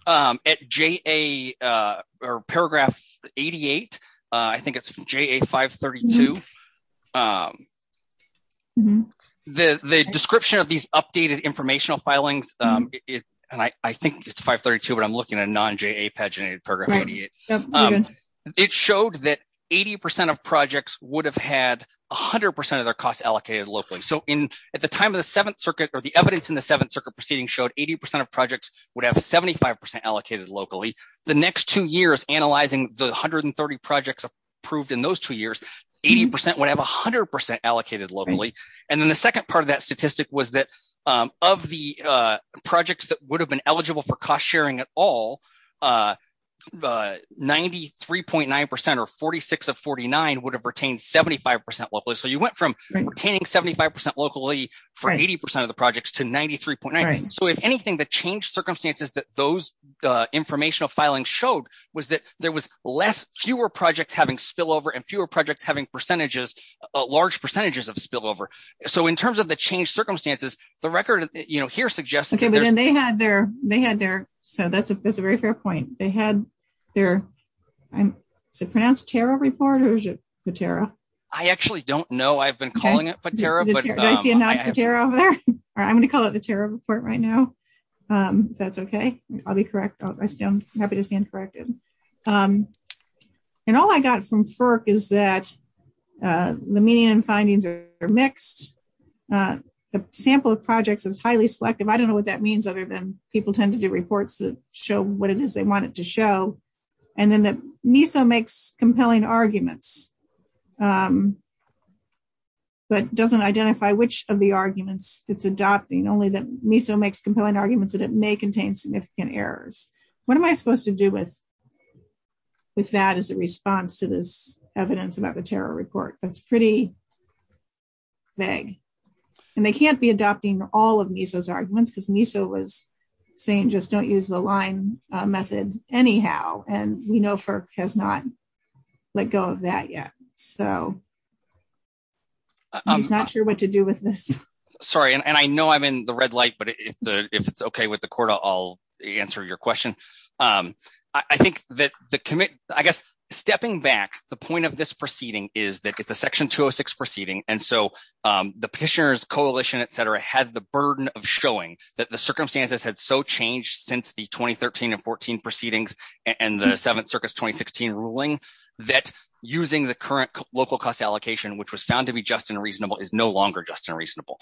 At JA, or paragraph 88, I think it's JA 532, the description of these updated informational filings, and I think it's 532, but I'm looking at non-JA paginated paragraph 88. It showed that 80% of projects would have had 100% of their costs allocated locally. So, at the time of the Seventh Circuit, or the evidence in the Seventh Circuit proceedings showed 80% of projects would have 75% allocated locally. The next two years, analyzing the 130 projects approved in those two years, 80% would have 100% allocated locally, and then the second part of that statistic was that of the projects that would have been eligible for cost sharing at all, 93.9% or 46 of 49 would have retained 75% locally. So, you went from retaining 75% locally for 80% of the projects to 93.9. So, if anything, the change circumstances that those informational filings showed was that there was fewer projects having spillover, and fewer projects having large percentages of spillover. So, in terms of the change circumstances, the record here suggests... Okay, but then they had their... So, that's a very fair point. They had their... Is it pronounced Tara Report, or is it the Tara? I actually don't know. I've been I'll be correct. I'm happy to stay uncorrected. And all I got from FERC is that the median findings are mixed. The sample of projects is highly selective. I don't know what that means, other than people tend to do reports that show what it is they want it to show. And then the MESA makes compelling arguments, but doesn't identify which of the arguments it's adopting, only that MESA makes compelling arguments that it may contain significant errors. What am I supposed to do with that as a response to this evidence about the Tara Report? That's pretty vague. And they can't be adopting all of MESA's arguments, because MESA was saying just don't use the LIME method anyhow. And we know FERC has not let go of that yet. So, I'm not sure what to do with this. Sorry. And I know I'm in the red light, but if it's okay with the CORDA, I'll answer your question. I think that the commit, I guess, stepping back, the point of this proceeding is that it's a Section 206 proceeding. And so, the petitioners, coalition, et cetera, had the burden of showing that the circumstances had so changed since the 2013 and 14 proceedings, and the 7th Circus 2016 ruling, that using the current local cost allocation, which was found to be just and reasonable, is no longer just and reasonable.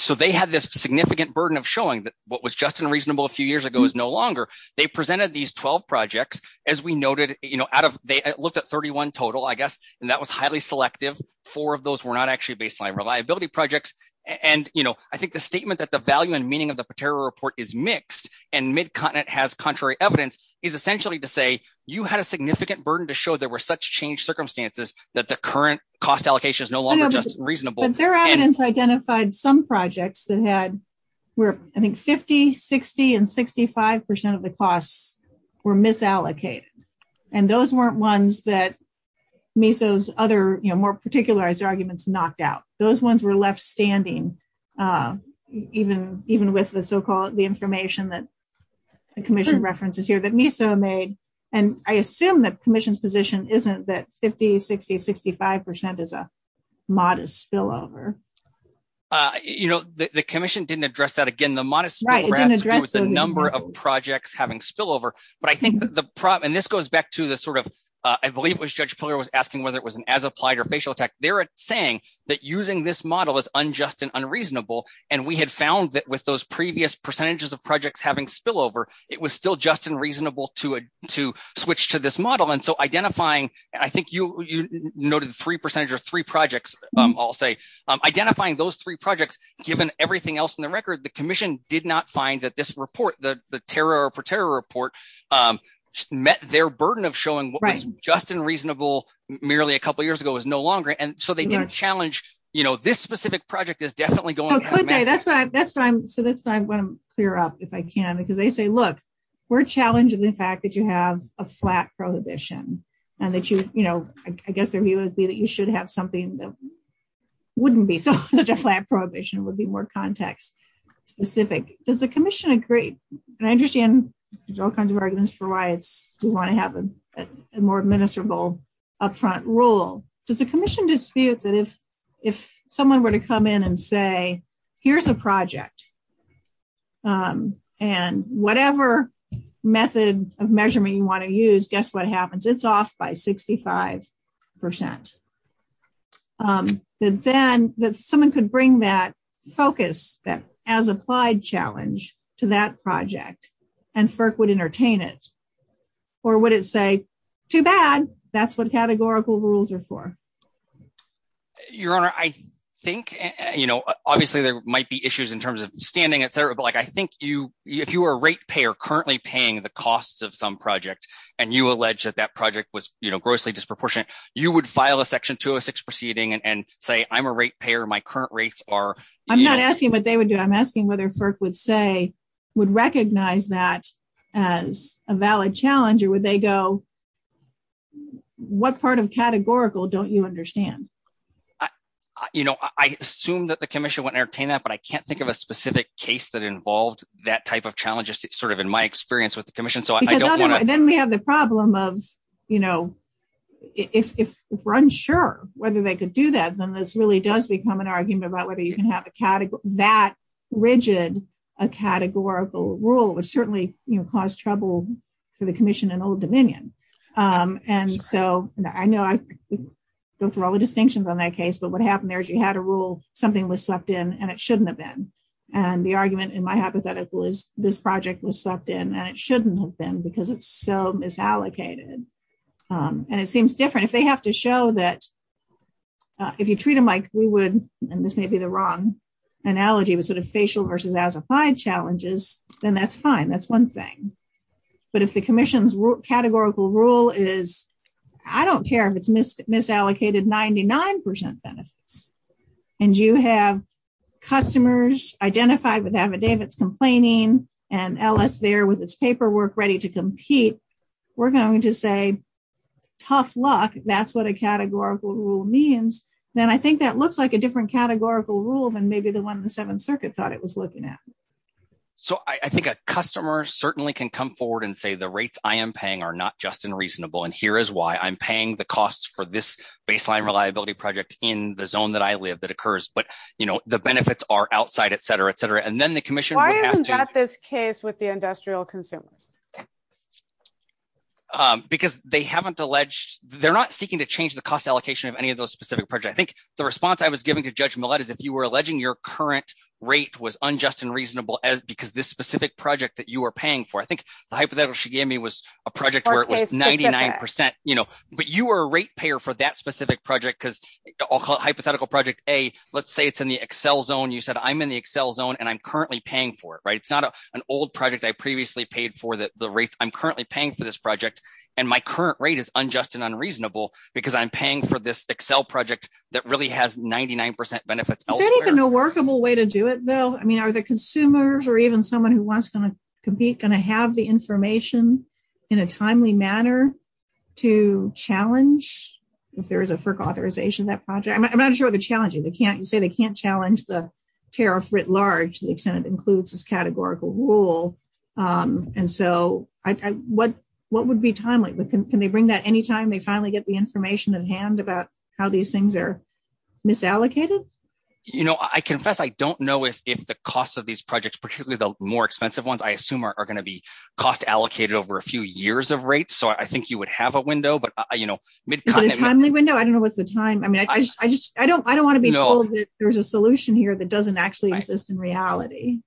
So, they had this significant burden of showing that what was just and reasonable a few years ago is no longer. They presented these 12 projects. As we noted, they looked at 31 total, I guess, and that was highly selective. Four of those were not actually baseline reliability projects. And I think the statement that the value and meaning of the Tara Report is mixed, and MidContinent has contrary evidence, is essentially to say, you had a significant burden to show there were such changed circumstances that the current cost allocation is no longer just and reasonable. But their evidence identified some projects that had, were, I think, 50, 60, and 65 percent of the costs were misallocated. And those weren't ones that NISO's other, you know, more particularized arguments knocked out. Those ones were left standing, even with the so-called, the information that the Commission references here that NISO made. And I assume the Commission's position isn't that 50, 60, 65 percent is a modest spillover. You know, the Commission didn't address that. Again, the modest spillover was the number of projects having spillover. But I think that the problem, and this goes back to the sort of, I believe it was Judge Pillar was asking whether it was an as-applied or facial attack. They were saying that using this model is unjust and unreasonable. And we had found that with those to switch to this model. And so, identifying, I think you noted three percentage or three projects, I'll say. Identifying those three projects, given everything else in the record, the Commission did not find that this report, the terror per terror report, met their burden of showing what was just and reasonable merely a couple years ago is no longer. And so, they didn't challenge, you know, this specific project is definitely going. Oh, could they? That's why I'm, so that's why I'm going to clear up if I can. Because they say, we're challenged in the fact that you have a flat prohibition and that you, you know, I guess their view would be that you should have something that wouldn't be such a flat prohibition, would be more context specific. Does the Commission agree? And I understand there's all kinds of arguments for why it's, we want to have a more administrable upfront rule. Does the Commission dispute that if someone were to come in and say, here's a project, and whatever method of measurement you want to use, guess what happens? It's off by 65 percent. That then, that someone could bring that focus, that as applied challenge to that project, and FERC would entertain it? Or would it say, too bad, that's what categorical rules are for? Your Honor, I think, you know, obviously there might be issues in terms of standing, et cetera. But like, I think you, if you were a rate payer currently paying the costs of some project, and you allege that that project was, you know, grossly disproportionate, you would file a Section 206 proceeding and say, I'm a rate payer, my current rates are. I'm not asking what they would do. I'm asking whether FERC would say, would recognize that as a valid challenge, or would they go, you know, what part of categorical don't you understand? You know, I assume that the Commission wouldn't entertain that, but I can't think of a specific case that involved that type of challenge, sort of in my experience with the Commission. Because then we have the problem of, you know, if we're unsure whether they could do that, then this really does become an argument about whether you can have that rigid a categorical rule, which certainly caused trouble for the Commission and Old Dominion. And so I know I go through all the distinctions on that case, but what happened there is you had a rule, something was sucked in, and it shouldn't have been. And the argument, in my hypothetical, is this project was sucked in, and it shouldn't have been because it's so misallocated. And it seems different. If they have to show that, if you treat them like we would, and this may be the wrong analogy, but sort of facial versus as applied challenges, then that's fine. That's one thing. But if the Commission's categorical rule is, I don't care if it's misallocated 99% of it, and you have customers identified with affidavits complaining, and LS there with its paperwork ready to compete, we're going to say, tough luck. That's what a categorical rule means. And I think that looks like a different categorical rule than maybe the one the Seventh Circuit thought it was looking at. So I think a customer certainly can come forward and say, the rates I am paying are not just unreasonable, and here is why. I'm paying the costs for this baseline reliability project in the zone that I live that occurs, but the benefits are outside, et cetera, et cetera. And then the Commission would have to- Why isn't that this case with the industrial consumer? Because they haven't alleged, they're not seeking to change the cost allocation of any specific project. I think the response I was giving to Judge Millett is, if you were alleging your current rate was unjust and reasonable because this specific project that you were paying for, I think the hypothetical she gave me was a project where it was 99%, but you were a rate payer for that specific project, because hypothetical project A, let's say it's in the Excel zone. You said, I'm in the Excel zone, and I'm currently paying for it. It's not an old project I previously paid for that the rate I'm currently paying for this project that really has 99% benefits elsewhere. Is that even a workable way to do it, Bill? I mean, are the consumers or even someone who wants to compete going to have the information in a timely manner to challenge, if there is a FERC authorization, that project? I'm not sure they're challenging. You say they can't challenge the tariff writ large to the extent it includes this categorical rule. And so, what would be timely? Can they bring that anytime they finally get the information in hand about how these things are misallocated? You know, I confess I don't know if the cost of these projects, particularly the more expensive ones, I assume are going to be cost allocated over a few years of rates. So, I think you would have a window, but, you know, mid-continent. Is it a timely window? I don't know what's the time. I mean, I don't want to be told that there's a solution here that doesn't actually exist in reality.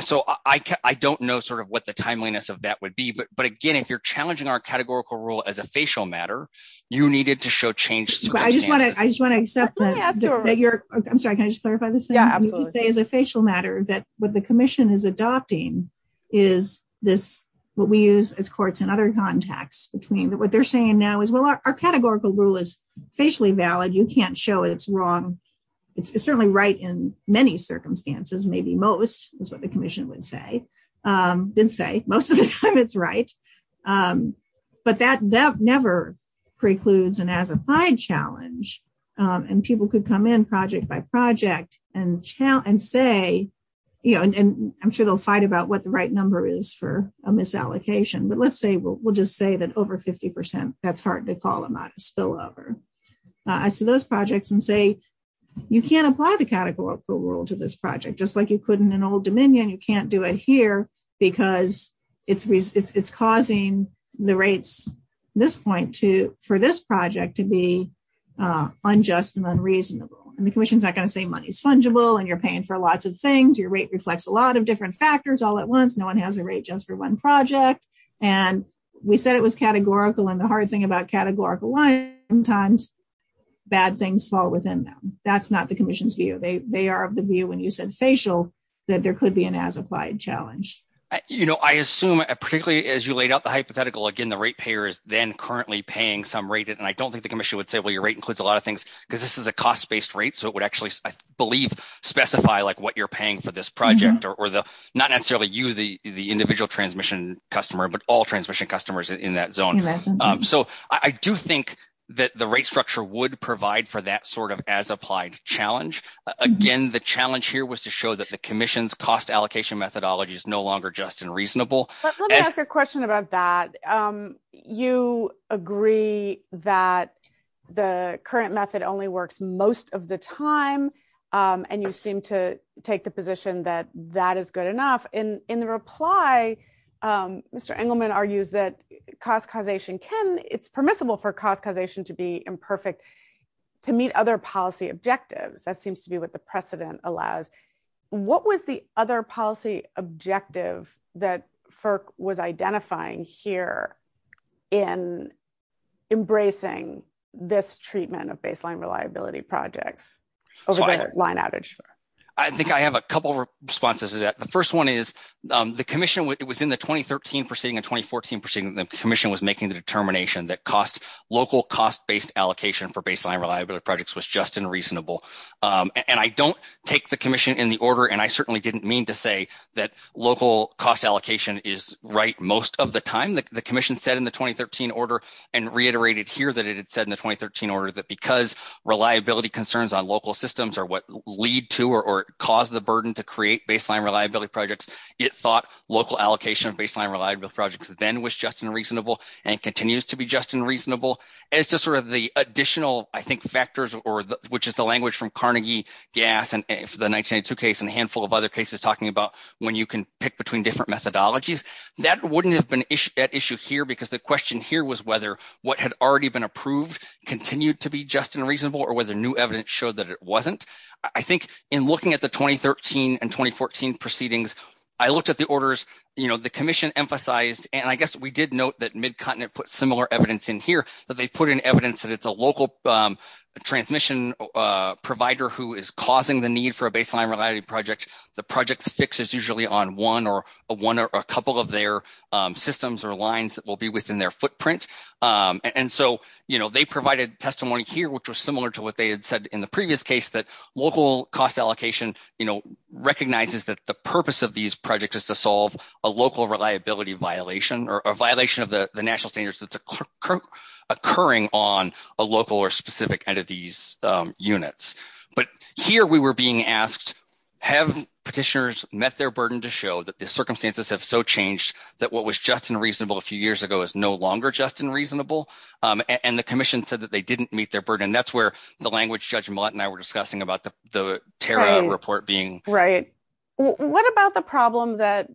So, I don't know sort of what the timeliness of that would be. But again, if you're challenging our categorical rule as a facial matter, you needed to show change. I just want to accept that you're, I'm sorry, can I just clarify this? As a facial matter, that what the commission is adopting is this, what we use as courts and other contacts between what they're saying now is, well, our categorical rule is facially valid. You can't show it's wrong. It's certainly right in many circumstances, maybe most is what the commission would say. Didn't say most of the time it's right. But that never precludes an as-applied challenge. And people could come in project by project and say, you know, and I'm sure they'll fight about what the right number is for a misallocation. But let's say we'll just say that over 50%, that's hard to call a modest spillover. I see those projects and say, you can't apply the categorical rule to this project. Just like you put in an old dominion, you can't do it here because it's causing the rates this point for this project to be unjust and unreasonable. And the commission's not going to say money is fungible and you're paying for lots of things. Your rate reflects a lot of different factors all at once. No one has a rate just for one project. And we said it was categorical. And the hard thing about categorical lines sometimes, bad things fall within them. That's not the commission's view. They are of the view when you said facial, that there could be an as-applied challenge. You know, I assume, particularly as you laid out the hypothetical, again, the rate payer is then currently paying some rate. And I don't think the commission would say, well, your rate includes a lot of things because this is a cost-based rate. So it would actually, I believe, specify like what you're paying for this project or the, not necessarily you, the individual transmission customer, but all transmission customers in that zone. So I do think that the rate structure would provide for that sort of as-applied challenge. Again, the challenge here was to show that the commission's cost allocation methodology is no longer just and reasonable. But let me ask a question about that. You agree that the current method only works most of the time and you seem to take the position that that is good enough. In the reply, Mr. Engelman argues that cost causation can, it's permissible for cost causation to be imperfect to meet other policy objectives. That seems to be what the precedent allows. What was the other policy objective that FERC was identifying here in embracing this treatment of baseline reliability projects over the line average? I think I have a couple of responses to that. The first one is the commission within the 2013 proceeding and 2014 proceeding, the commission was making the determination that local cost-based allocation for baseline reliability projects was just and reasonable. And I don't take the commission in the order, and I certainly didn't mean to say that local cost allocation is right most of the time. The commission said in the 2013 order and reiterated here that it had said in the 2013 order that because reliability concerns on local systems are what lead to or cause the burden to create baseline reliability projects, it thought local allocation of baseline reliability projects then was just and reasonable and continues to be just and reasonable. And it's just sort of the additional, I think, factors, which is the language from Carnegie, GAS, and the 1992 case, and a handful of other cases talking about when you can pick between different methodologies. That wouldn't have been at issue here because the question here was whether what had already been approved continued to be just and reasonable or whether new evidence showed that it wasn't. I think in looking at the 2013 and 2014 proceedings, I looked at the orders, you know, the commission emphasized, and I guess we did note that Mid Continent put similar evidence in here, that they put in evidence that it's a local transmission provider who is causing the need for a baseline reliability project. The project fix is usually on one or a couple of their systems or lines that will be within their footprint. And so, you know, they provided testimony here, which was similar to what they had said in the previous case, that local cost allocation, you know, recognizes that the purpose of these projects is to solve a local reliability violation or a violation of the national standards that's occurring on a local or specific entity's units. But here we were being asked, have petitioners met their burden to show that the circumstances have so changed that what was just and reasonable a few years ago is no longer just and reasonable? And the commission said that they didn't meet their burden. That's where the language Judge Millett and I were discussing about the tear-out report being. Right. What about the problem that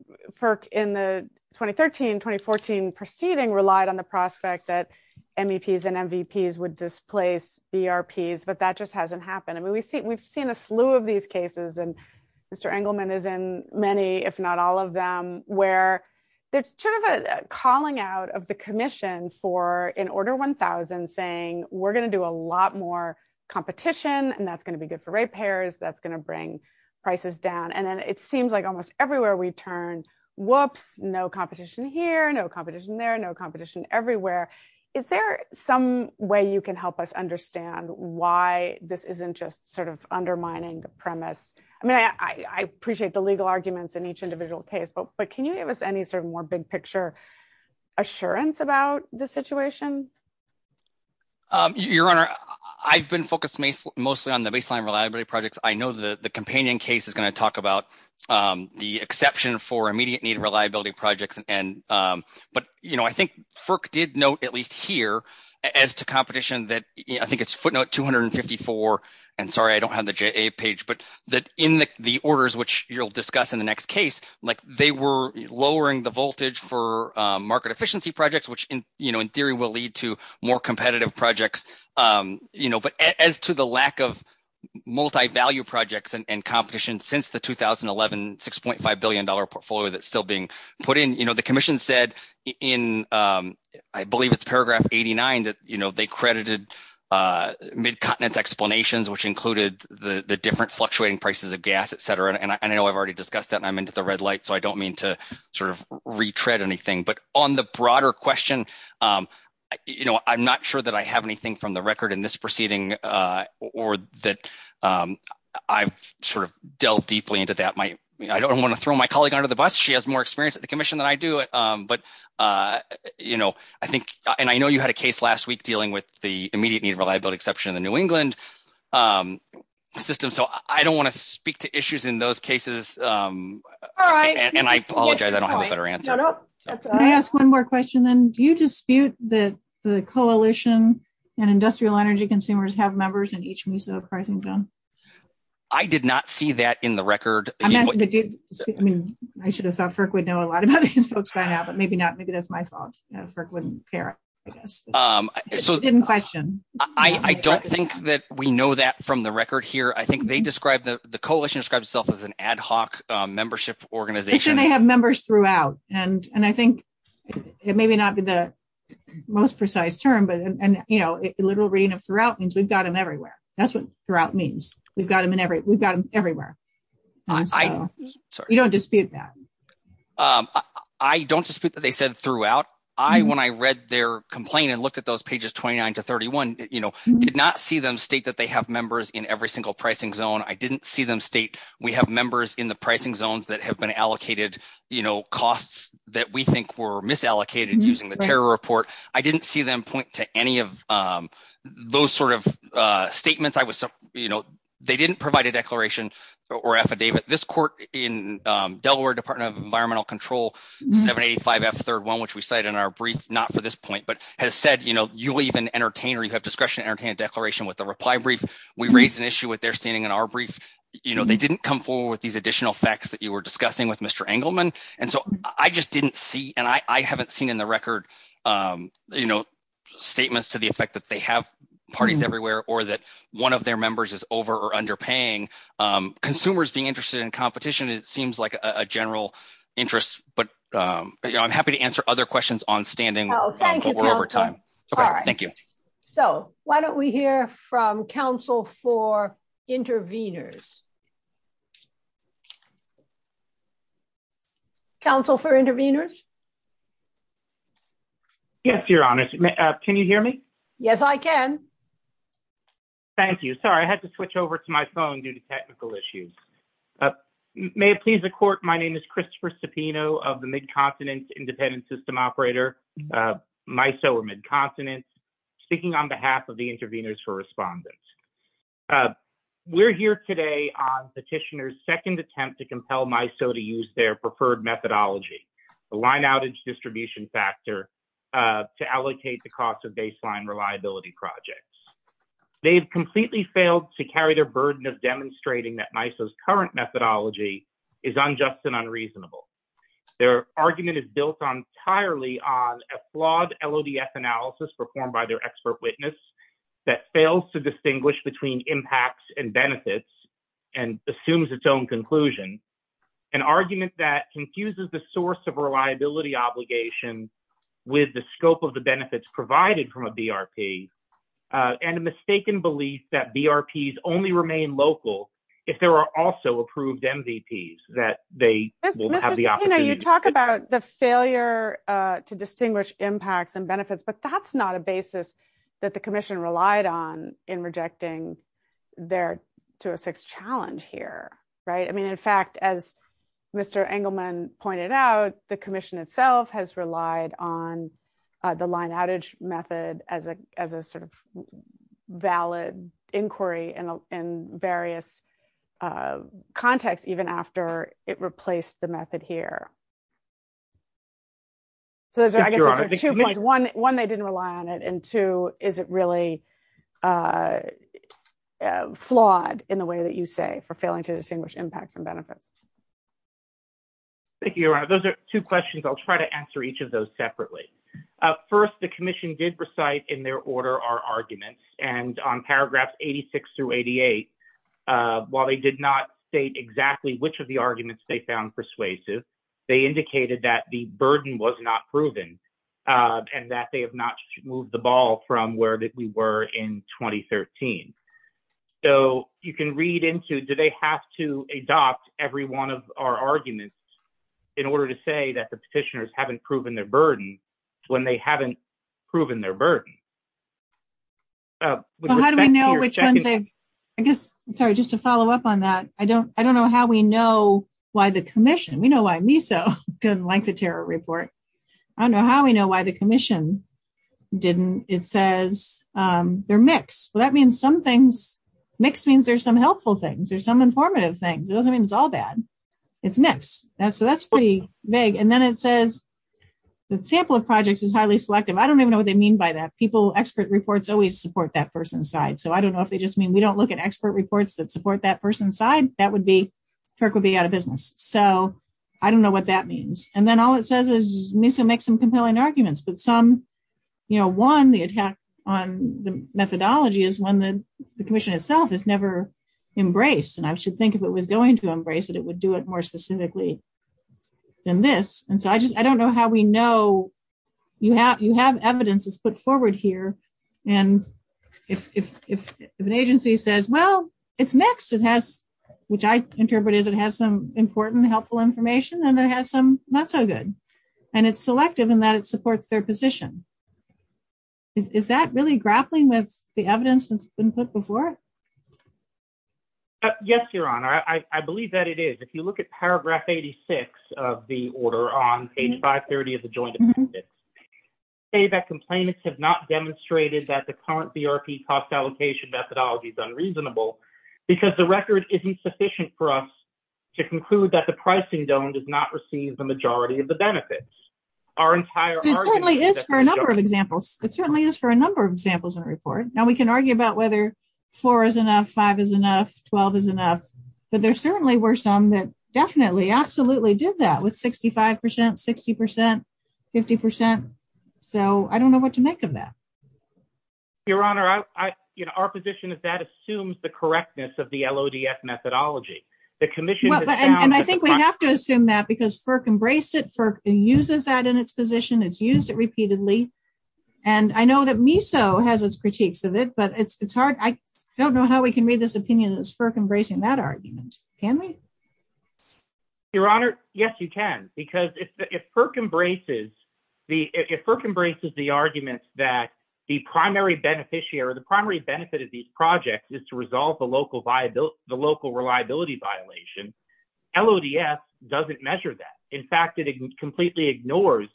in the 2013-2014 proceeding relied on the prospect that MEPs and MVPs would displace ERPs, but that just hasn't happened? I mean, we've seen a slew of these cases, and Mr. Engelman is in many, if not all of them, where there's sort of a calling out of the commission for an Order 1000 saying, we're going to do a lot more competition, and that's going to be good for ratepayers, that's going to bring prices down. And then it seems like almost everywhere we've turned, whoops, no competition here, no competition there, no competition everywhere. Is there some way you can help us understand why this isn't just sort of undermining the premise? I mean, I appreciate the legal arguments in each individual case, but can you give us any sort of more big picture assurance about the situation? Your Honor, I've been focused mostly on the baseline reliability projects. I know the companion case is going to talk about the exception for immediate need reliability projects, but I think FERC did note, at least here, as to competition that, I think it's footnote 254, and sorry, I don't have the JA page, but that in the orders, which you'll discuss in the next case, they were lowering the voltage for market efficiency projects, which in theory will lead to more competitive projects. But as to the lack of multi-value projects and competition since the 2011 $6.5 billion portfolio that's still being put in, the commission said in, I believe it's paragraph 89, that they credited mid-continent explanations, which included the different I don't mean to sort of retread anything, but on the broader question, I'm not sure that I have anything from the record in this proceeding or that I've sort of delved deeply into that. I don't want to throw my colleague under the bus. She has more experience at the commission than I do, but I think, and I know you had a case last week dealing with the immediate need reliability exception in the New England system, so I don't want to speak to issues in those cases, and I apologize, I don't have a better answer. Can I ask one more question, then? Do you dispute that the coalition and industrial energy consumers have members in each piece of the pricing bill? I did not see that in the record. I mean, I should have thought FERC would know a lot about these folks by now, but maybe not. Maybe that's my fault. FERC wouldn't care, I guess. I didn't question. I don't think that we know that from the record here. I think the coalition describes itself as an ad hoc membership organization. They have members throughout, and I think, it may not be the most precise term, but a literal reading of throughout means we've got them everywhere. That's what throughout means. We've got them everywhere. You don't dispute that? I don't dispute that they said throughout. I, when I read their complaint and looked at those pages 29 to 31, you know, did not see them state that they have pricing zone. I didn't see them state we have members in the pricing zones that have been allocated, you know, costs that we think were misallocated using the terror report. I didn't see them point to any of those sort of statements. I was, you know, they didn't provide a declaration or affidavit. This court in Delaware Department of Environmental Control, 785F31, which we cite in our brief, not for this point, but has said, you know, you leave an entertainer, you have declaration with a reply brief. We raised an issue with their standing in our brief. You know, they didn't come forward with these additional facts that you were discussing with Mr. Engelman, and so I just didn't see, and I haven't seen in the record, you know, statements to the effect that they have parties everywhere or that one of their members is over or underpaying. Consumers being interested in competition, it seems like a general interest, but, you know, I'm happy to answer other questions on standing over time. Thank you. So, why don't we hear from counsel for intervenors? Counsel for intervenors. Yes, Your Honor. Can you hear me? Yes, I can. Thank you. Sorry, I had to switch over to my phone due to technical issues. May it please the court, my name is Christopher Cepino of the Mid-Continent Independent System Operator, MISO or Mid-Continent, speaking on behalf of the intervenors for respondents. We're here today on Petitioner's second attempt to compel MISO to use their preferred methodology, the line outage distribution factor, to allocate the cost of baseline reliability projects. They have completely failed to carry their burden of demonstrating that MISO's current methodology is unjust and unreasonable. Their argument is built entirely on a flawed LODF analysis performed by their expert witness that fails to distinguish between impacts and benefits and assumes its own conclusion, an argument that confuses the source of reliability obligation with the scope of the benefits provided from a BRP, and a mistaken belief that BRPs only remain local if there are also approved MVPs that they will have the opportunity. You talk about the failure to distinguish impacts and benefits, but that's not a basis that the commission relied on in rejecting their to a fixed challenge here, right? I mean, in fact, as Mr. Engelman pointed out, the commission itself has relied on the line outage method as a sort of valid inquiry in various contexts, even after it replaced the method here. One, they didn't rely on it, and two, is it really flawed in the way that you say for failing to distinguish impact from benefits? Thank you, Your Honor. Those are two questions. I'll try to answer each of those separately. First, the commission did recite in their order our arguments, and on paragraphs 86 through 88, while they did not state exactly which of the arguments they found persuasive, they indicated that the burden was not proven and that they have not moved the ball from where we were in 2013. So, you can read into, do they have to adopt every one of our arguments in order to say that the petitioners haven't proven their burden when they haven't proven their burden? So, how do we know which one to, I guess, sorry, just to follow up on that, I don't know how we know why the commission, we know why MISA didn't like the terror report. I don't know how we know why the commission didn't. It says they're mixed. Well, that means some things, mixed means there's some helpful things, there's some informative things. It doesn't mean it's all bad. It's mixed. So, that's pretty vague. And then it says the sample of projects is highly selective. I don't even know what they mean by that. People, expert reports always support that person's side. So, I don't know if they just mean we don't look at expert reports that support that person's side. That would be, FERC would be out of business. So, I don't know what that means. And then all it says is MISA makes some compelling arguments, but some, you know, one, the attack on the methodology is one that the commission itself has never embraced. And I should think if it was going to embrace it, would do it more specifically than this. And so, I just, I don't know how we know you have, you have evidence that's put forward here. And if an agency says, well, it's mixed, it has, which I interpret as it has some important, helpful information, and it has some not so good. And it's selective in that it supports their position. Is that really grappling with the evidence that's been put before it? Yes, Your Honor. I believe that it is. If you look at paragraph 86 of the order on page 530 of the joint appendix, say that complainants have not demonstrated that the current BRP cost allocation methodology is unreasonable because the record isn't sufficient for us to conclude that the pricing dome does not receive the majority of the benefits. Our entire argument- It certainly is for a number of examples. It certainly is for a number of examples in the report. Now, we can argue about whether four is enough, five is enough, 12 is enough. But there certainly were some that definitely, absolutely did that with 65%, 60%, 50%. So, I don't know what to make of that. Your Honor, our position is that assumes the correctness of the LODF methodology. The commission- And I think we have to assume that because FERC embraced it, FERC uses that in its position, it's used it repeatedly. And I know that MISO has its I don't know how we can make this opinion that it's FERC embracing that argument. Can we? Your Honor, yes, you can. Because if FERC embraces the arguments that the primary beneficiary or the primary benefit of these projects is to resolve the local reliability violation, LODF doesn't measure that. In fact, it completely ignores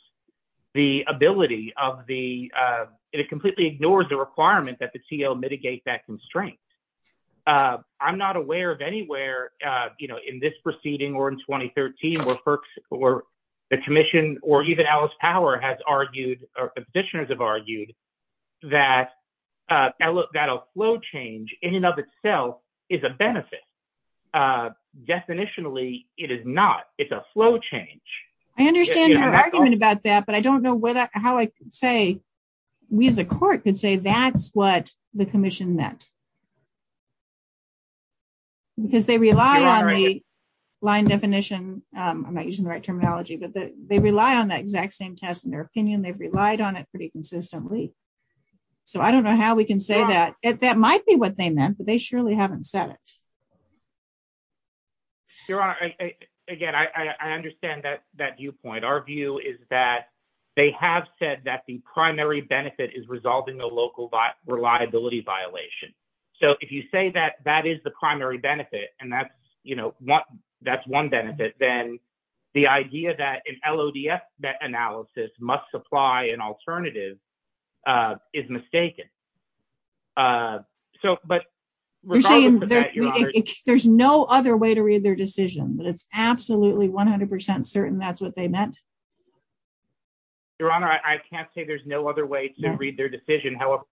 the ability of the- It completely ignores the constraints. I'm not aware of anywhere in this proceeding or in 2013 where FERC or the commission or even Alice Power has argued or petitioners have argued that a flow change in and of itself is a benefit. Definitionally, it is not. It's a flow change. I understand your argument about that, but I don't know how I could say, we as a court could say that's what the commission meant. Because they rely on the line definition. I'm not using the right terminology, but they rely on that exact same test in their opinion. They've relied on it pretty consistently. So I don't know how we can say that. That might be what they meant, but they surely haven't said it. Your Honor, again, I understand that viewpoint. Our view is that they have said that the primary benefit is resolving the local reliability violation. So if you say that that is the primary benefit and that's one benefit, then the idea that an LODF analysis must supply an alternative is mistaken. There's no other way to read their decision, but it's absolutely 100% certain that's meant. Your Honor, I can't say there's no other way to read their decision. However,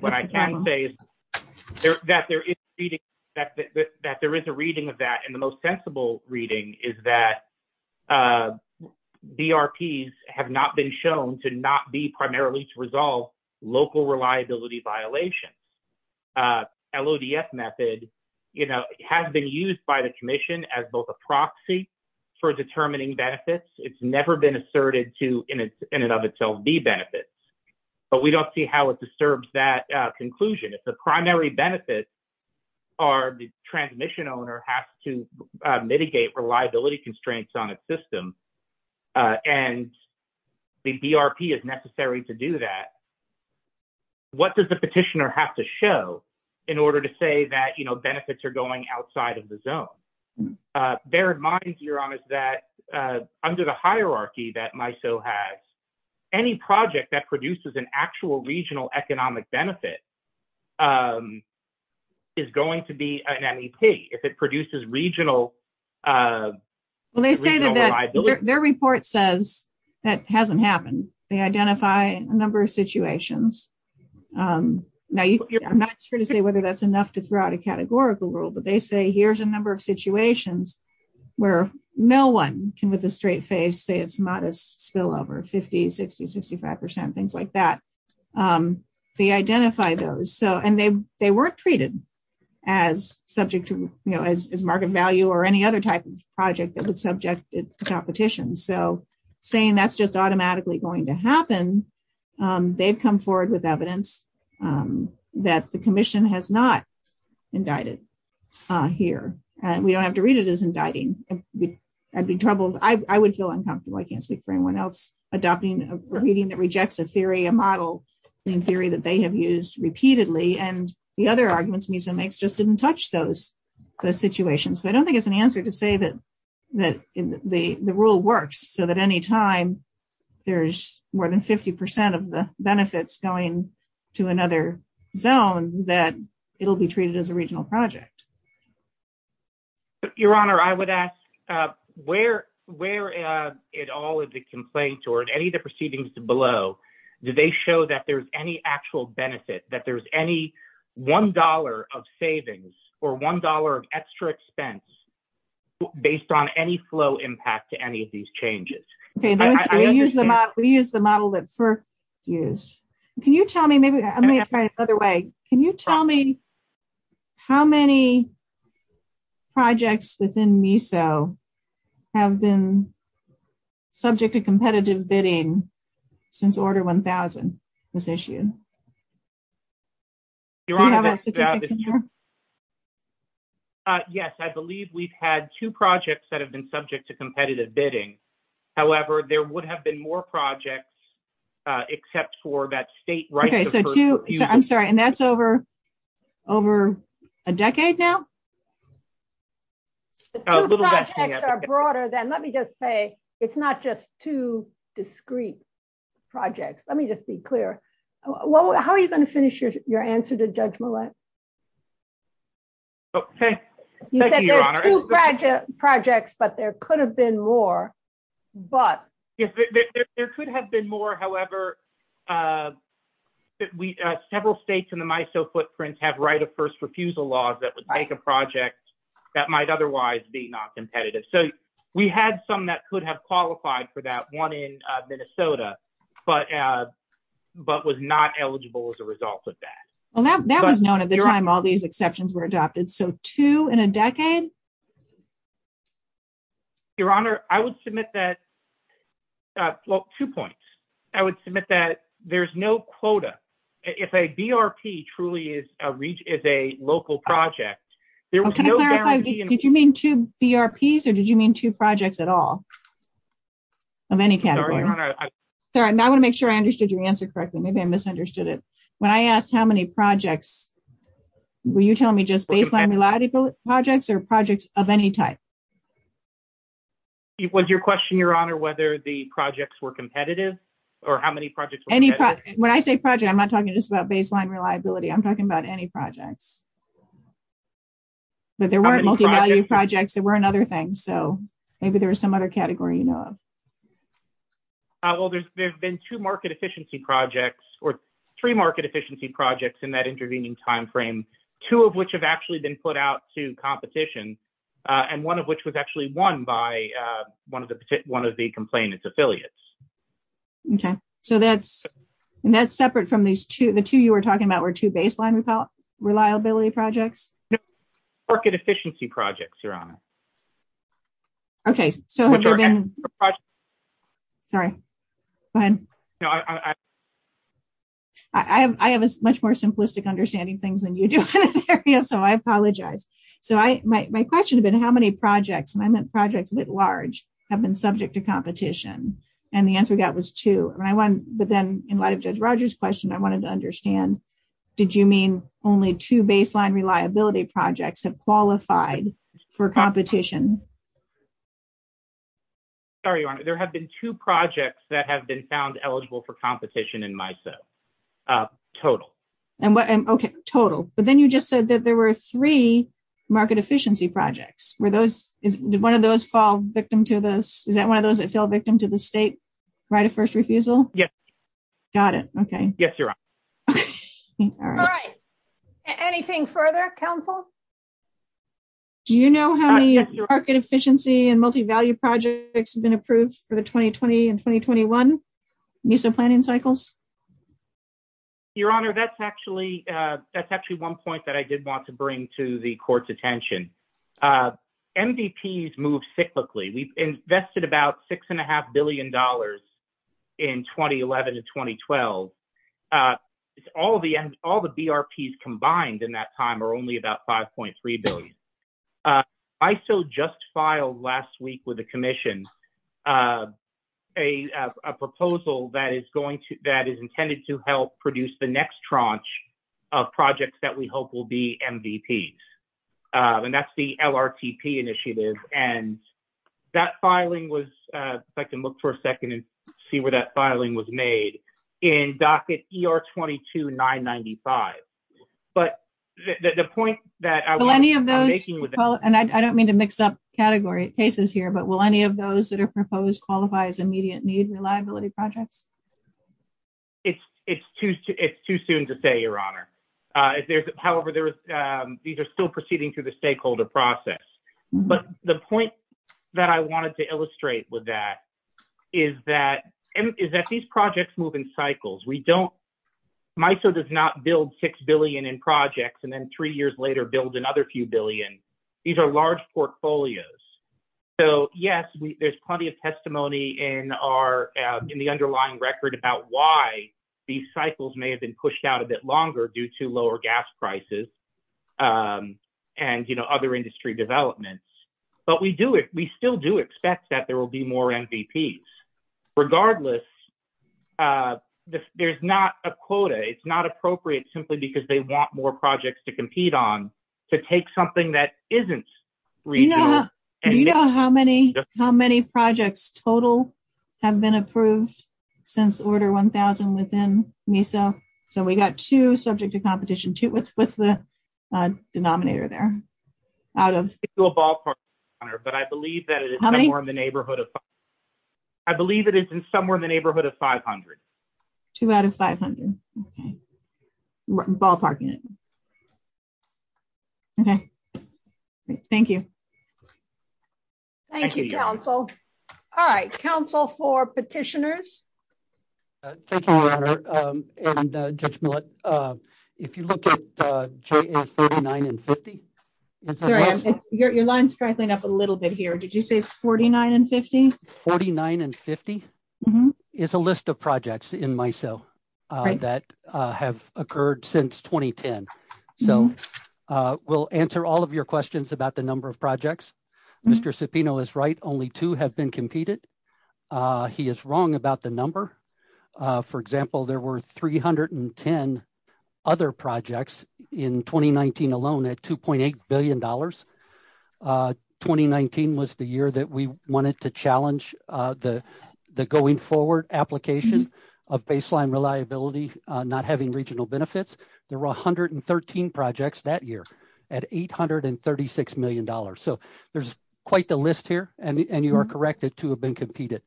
what I can say is that there is a reading of that, and the most sensible reading is that BRPs have not been shown to not be primarily to resolve local reliability violations. LODF method has been used by the Commission as both a proxy for determining benefits. It's never been asserted to in and of itself be benefits. But we don't see how it disturbs that conclusion. If the primary benefits are the transmission owner has to mitigate reliability constraints on a system, and the BRP is necessary to do that, what does the petitioner have to show in order to say that benefits are going outside of the zone? Bear in mind, Your Honor, that under the hierarchy that MISO has, any project that produces an actual regional economic benefit is going to be an NEP if it produces regional reliability. Their report says that hasn't happened. They identify a number of situations. Now, I'm not sure to say whether that's enough to throw out a categorical rule, but they say here's a number of situations where no one can with a straight face say it's not a spillover, 50, 60, 65 percent, things like that. They identify those, and they weren't treated as subject to, you know, as market value or any other type of project that would subject it to competition. So saying that's just automatically going to happen, they've come forward with evidence that the commission has not indicted here, and we don't have to read it as indicting. I'd be troubled. I would feel uncomfortable. I can't speak for anyone else adopting a reading that rejects a theory, a model in theory that they have used repeatedly, and the other arguments MISO makes just didn't touch those situations. So I don't think it's an answer to say that the rule works, so that any time there's more than 50 percent of the benefits going to another zone, that it'll be treated as a regional project. Your Honor, I would ask where in all of the complaints or in any of the proceedings below, did they show that there's any actual benefit, that there's any $1 of savings or $1 of extra expense based on any flow impact to any of these changes? Okay, we use the model that FERC used. Can you tell me, maybe I'm going to try it another way, can you tell me how many projects within MISO have been subject to competitive bidding since Order 1000 was issued? Your Honor, I believe we've had two projects that have been subject to competitive bidding. However, there would have been more projects except for that state- I'm sorry, and that's over a decade now? The two projects are broader than, let me just say, it's not just two discrete projects. Let me just be clear. How are you going to finish your answer to Judge Millett? Thank you, Your Honor. You said there's two projects, but there could have been more, but- There could have been more, however, several states in the MISO footprints have right of first refusal laws that would make a project that might otherwise be not competitive. So, we had some that could have qualified for that, one in Minnesota, but was not eligible as a result of that. Well, that was known at the time all these exceptions were adopted. So, two in a decade? Your Honor, I would submit that- well, two points. I would submit that there's no quota. If a BRP truly is a local project, there was no guarantee- Did you mean two BRPs, or did you mean two projects at all of any category? Sorry, and I want to make sure I understood your answer correctly. Maybe I misunderstood it. When I asked how many projects, were you telling me just baseline reliability projects or projects of any type? Was your question, Your Honor, whether the projects were competitive or how many projects- When I say project, I'm not talking just about baseline reliability. I'm talking about any projects. But there weren't multi-value projects. There weren't other things. So, maybe there's some other category you know of. Well, there's been two market efficiency projects or three market efficiency projects in that intervening timeframe, two of which have actually been put out to competition, and one of which was actually won by one of the complainant's affiliates. Okay. So, that's separate from these two. The two you were talking about were two baseline reliability projects? Market efficiency projects, Your Honor. Okay. Sorry. Go ahead. I have a much more simplistic understanding of things than you do, so I apologize. So, my question has been how many projects, and I meant projects at large, have been subject to competition? And the answer we got was two. But then, in light of Judge Rogers' question, I wanted to understand, did you mean only two baseline reliability projects have qualified for competition? Sorry, Your Honor. There have been two projects that have been found eligible for competition in MISO, total. Okay. Total. But then you just said that there were three market efficiency projects. Did one of those fall victim to this? Is that one of those that fell victim to the state right of first refusal? Yes, Your Honor. Got it. Okay. All right. Anything further? Counsel? Do you know how many market efficiency and multi-value projects have been approved for the 2020 and 2021 MISO planning cycles? Your Honor, that's actually one point that I did want to bring to the Court's attention. MVPs move cyclically. We've invested about $6.5 billion in 2011 and 2012. All the BRPs combined in that time are only about $5.3 billion. MISO just filed last week with the Commission a proposal that is intended to help produce the LRPP initiative, and that filing was—if I can look for a second and see where that filing was made—in docket ER-22-995. But the point that I want to make— Will any of those—and I don't mean to mix up categories here—but will any of those that are proposed qualify as immediate needs reliability projects? It's too soon to say, Your Honor. However, these are still proceeding through the stakeholder process. But the point that I wanted to illustrate with that is that these projects move in cycles. MISO does not build $6 billion in projects and then three years later build another few billion. These are large portfolios. So, yes, there's plenty of testimony in the underlying record about why these cycles may have been pushed out a bit longer due to lower gas prices and other industry developments. But we still do expect that there will be more MVPs. Regardless, there's not a quota. It's not appropriate simply because they want more projects to compete on to take something that isn't reasonable. Do you know how many projects total have been approved since Order 1000 was in MISO? So, we got two subject to competition. What's the denominator there out of— It's a ballpark, Your Honor, but I believe that it is somewhere in the neighborhood of 500. Two out of 500. Okay. Ballparking it. Okay. Thank you. Thank you, counsel. All right. Counsel for petitioners? Thank you, Your Honor. And Judge Millett, if you look at JAS 39 and 50— Sorry, your line's crackling up a little bit here. Did you say 49 and 50? 49 and 50 is a list of projects in MISO that have occurred since 2010. So, we'll answer all of your questions about the number of projects. Mr. Cepino is right. Only two have been competed. He is wrong about the number. For example, there were 310 other projects in 2019 alone at $2.8 billion. 2019 was the year that we wanted to challenge the going forward application of baseline reliability, not having regional benefits. There were 113 projects that year at $836 million. So, there's quite the list here, and you are correct. The two have been competed.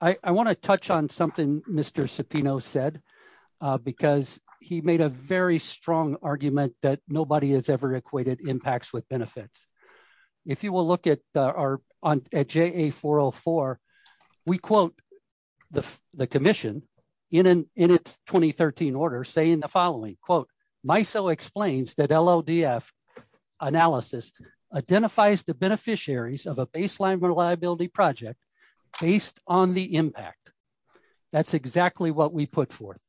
I want to touch on something Mr. Cepino said, because he made a very strong argument that nobody has ever equated impacts with benefits. If you will look at JA 404, we quote the commission in its 2013 order saying the following, MISO explains that LODF analysis identifies the beneficiaries of a baseline reliability project based on the impact. That's exactly what we put forth.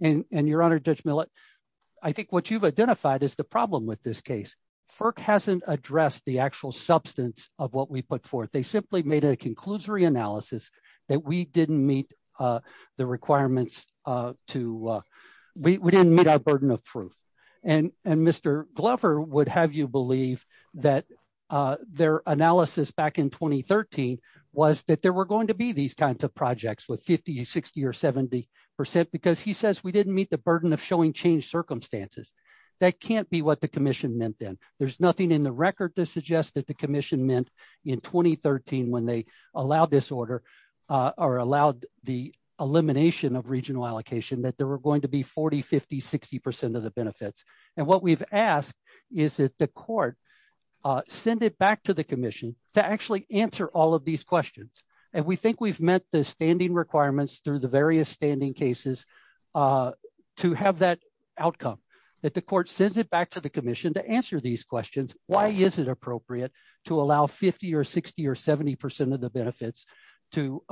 Your Honor, Judge Millett, I think what you've identified is the problem with this case. FERC hasn't addressed the actual substance of what we put forth. They simply made a conclusory analysis that we didn't meet the requirements. We didn't meet our burden of truth. Mr. Glover would have you believe that their analysis back in 2013 was that there were going to be these kinds of projects with 50, 60, or 70 percent, because he says we didn't meet the burden of showing changed circumstances. That can't be what the commission meant then. There's nothing in the record that suggests the commission meant in 2013 when they allowed this order or allowed the elimination of regional allocation that there were going to be 40, 50, 60 percent of the benefits. What we've asked is that the court send it back to the commission to actually answer all of these questions. We think we've met the standing requirements through the various standing cases to have that outcome. The court sends it back to the commission to answer these questions. Why is it appropriate to allow 50, 60, or 70 percent of the benefits to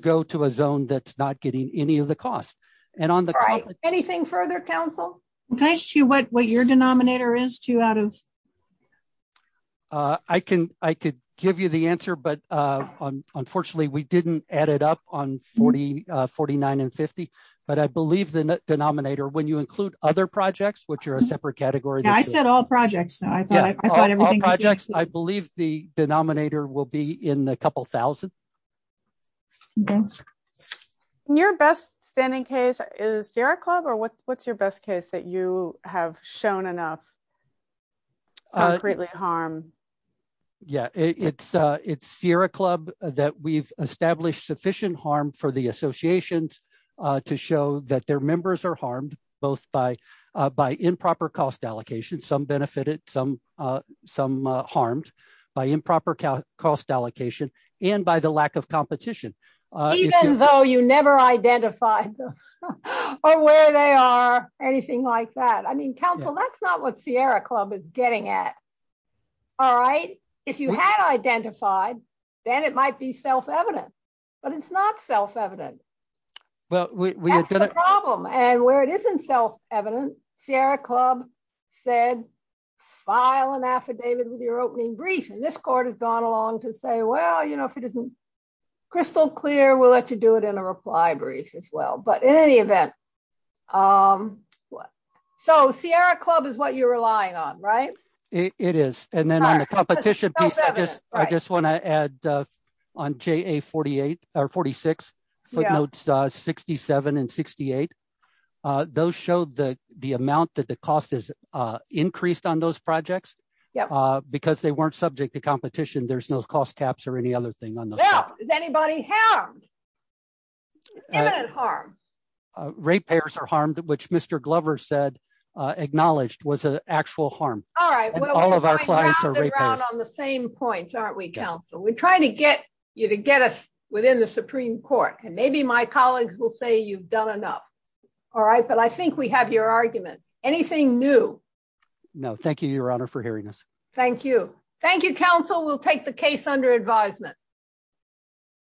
go to a zone that's not getting any of the cost? Anything further, counsel? Can I ask you what your denominator is? I could give you the answer, but unfortunately, we didn't add it up on 49 and 50. I believe the other projects, which are a separate category. I said all projects. I believe the denominator will be in a couple thousand. Your best standing case is Sierra Club, or what's your best case that you have shown enough harm? It's Sierra Club that we've established sufficient harm for the associations to show that their members are harmed both by improper cost allocation, some benefited, some harmed by improper cost allocation, and by the lack of competition. Even though you never identified them or where they are, anything like that. Counsel, that's not what Sierra Club is getting at. If you had identified, then it might be self-evident, but it's not self-evident. That's the problem. Where it isn't self-evident, Sierra Club said, file an affidavit with your opening brief. This court has gone along to say, well, if it isn't crystal clear, we'll let you do it in a reply brief as well. In any event, Sierra Club is what you're relying on, right? It is. Then on the competition piece, I just want to add on JA 46, footnotes 67 and 68, those showed the amount that the cost is increased on those projects. Because they weren't subject to competition, there's no cost caps or any other thing on those. Is anybody harmed? Evident harm. Ratepayers are harmed, which Mr. Glover said, acknowledged was an actual harm. All of our clients are ratepayers. We're trying to get you to get us within the Supreme Court. Maybe my colleagues will say you've done enough. All right, but I think we have your argument. Anything new? No. Thank you, Your Honor, for hearing us. Thank you. Thank you, counsel. We'll take the case under advisement.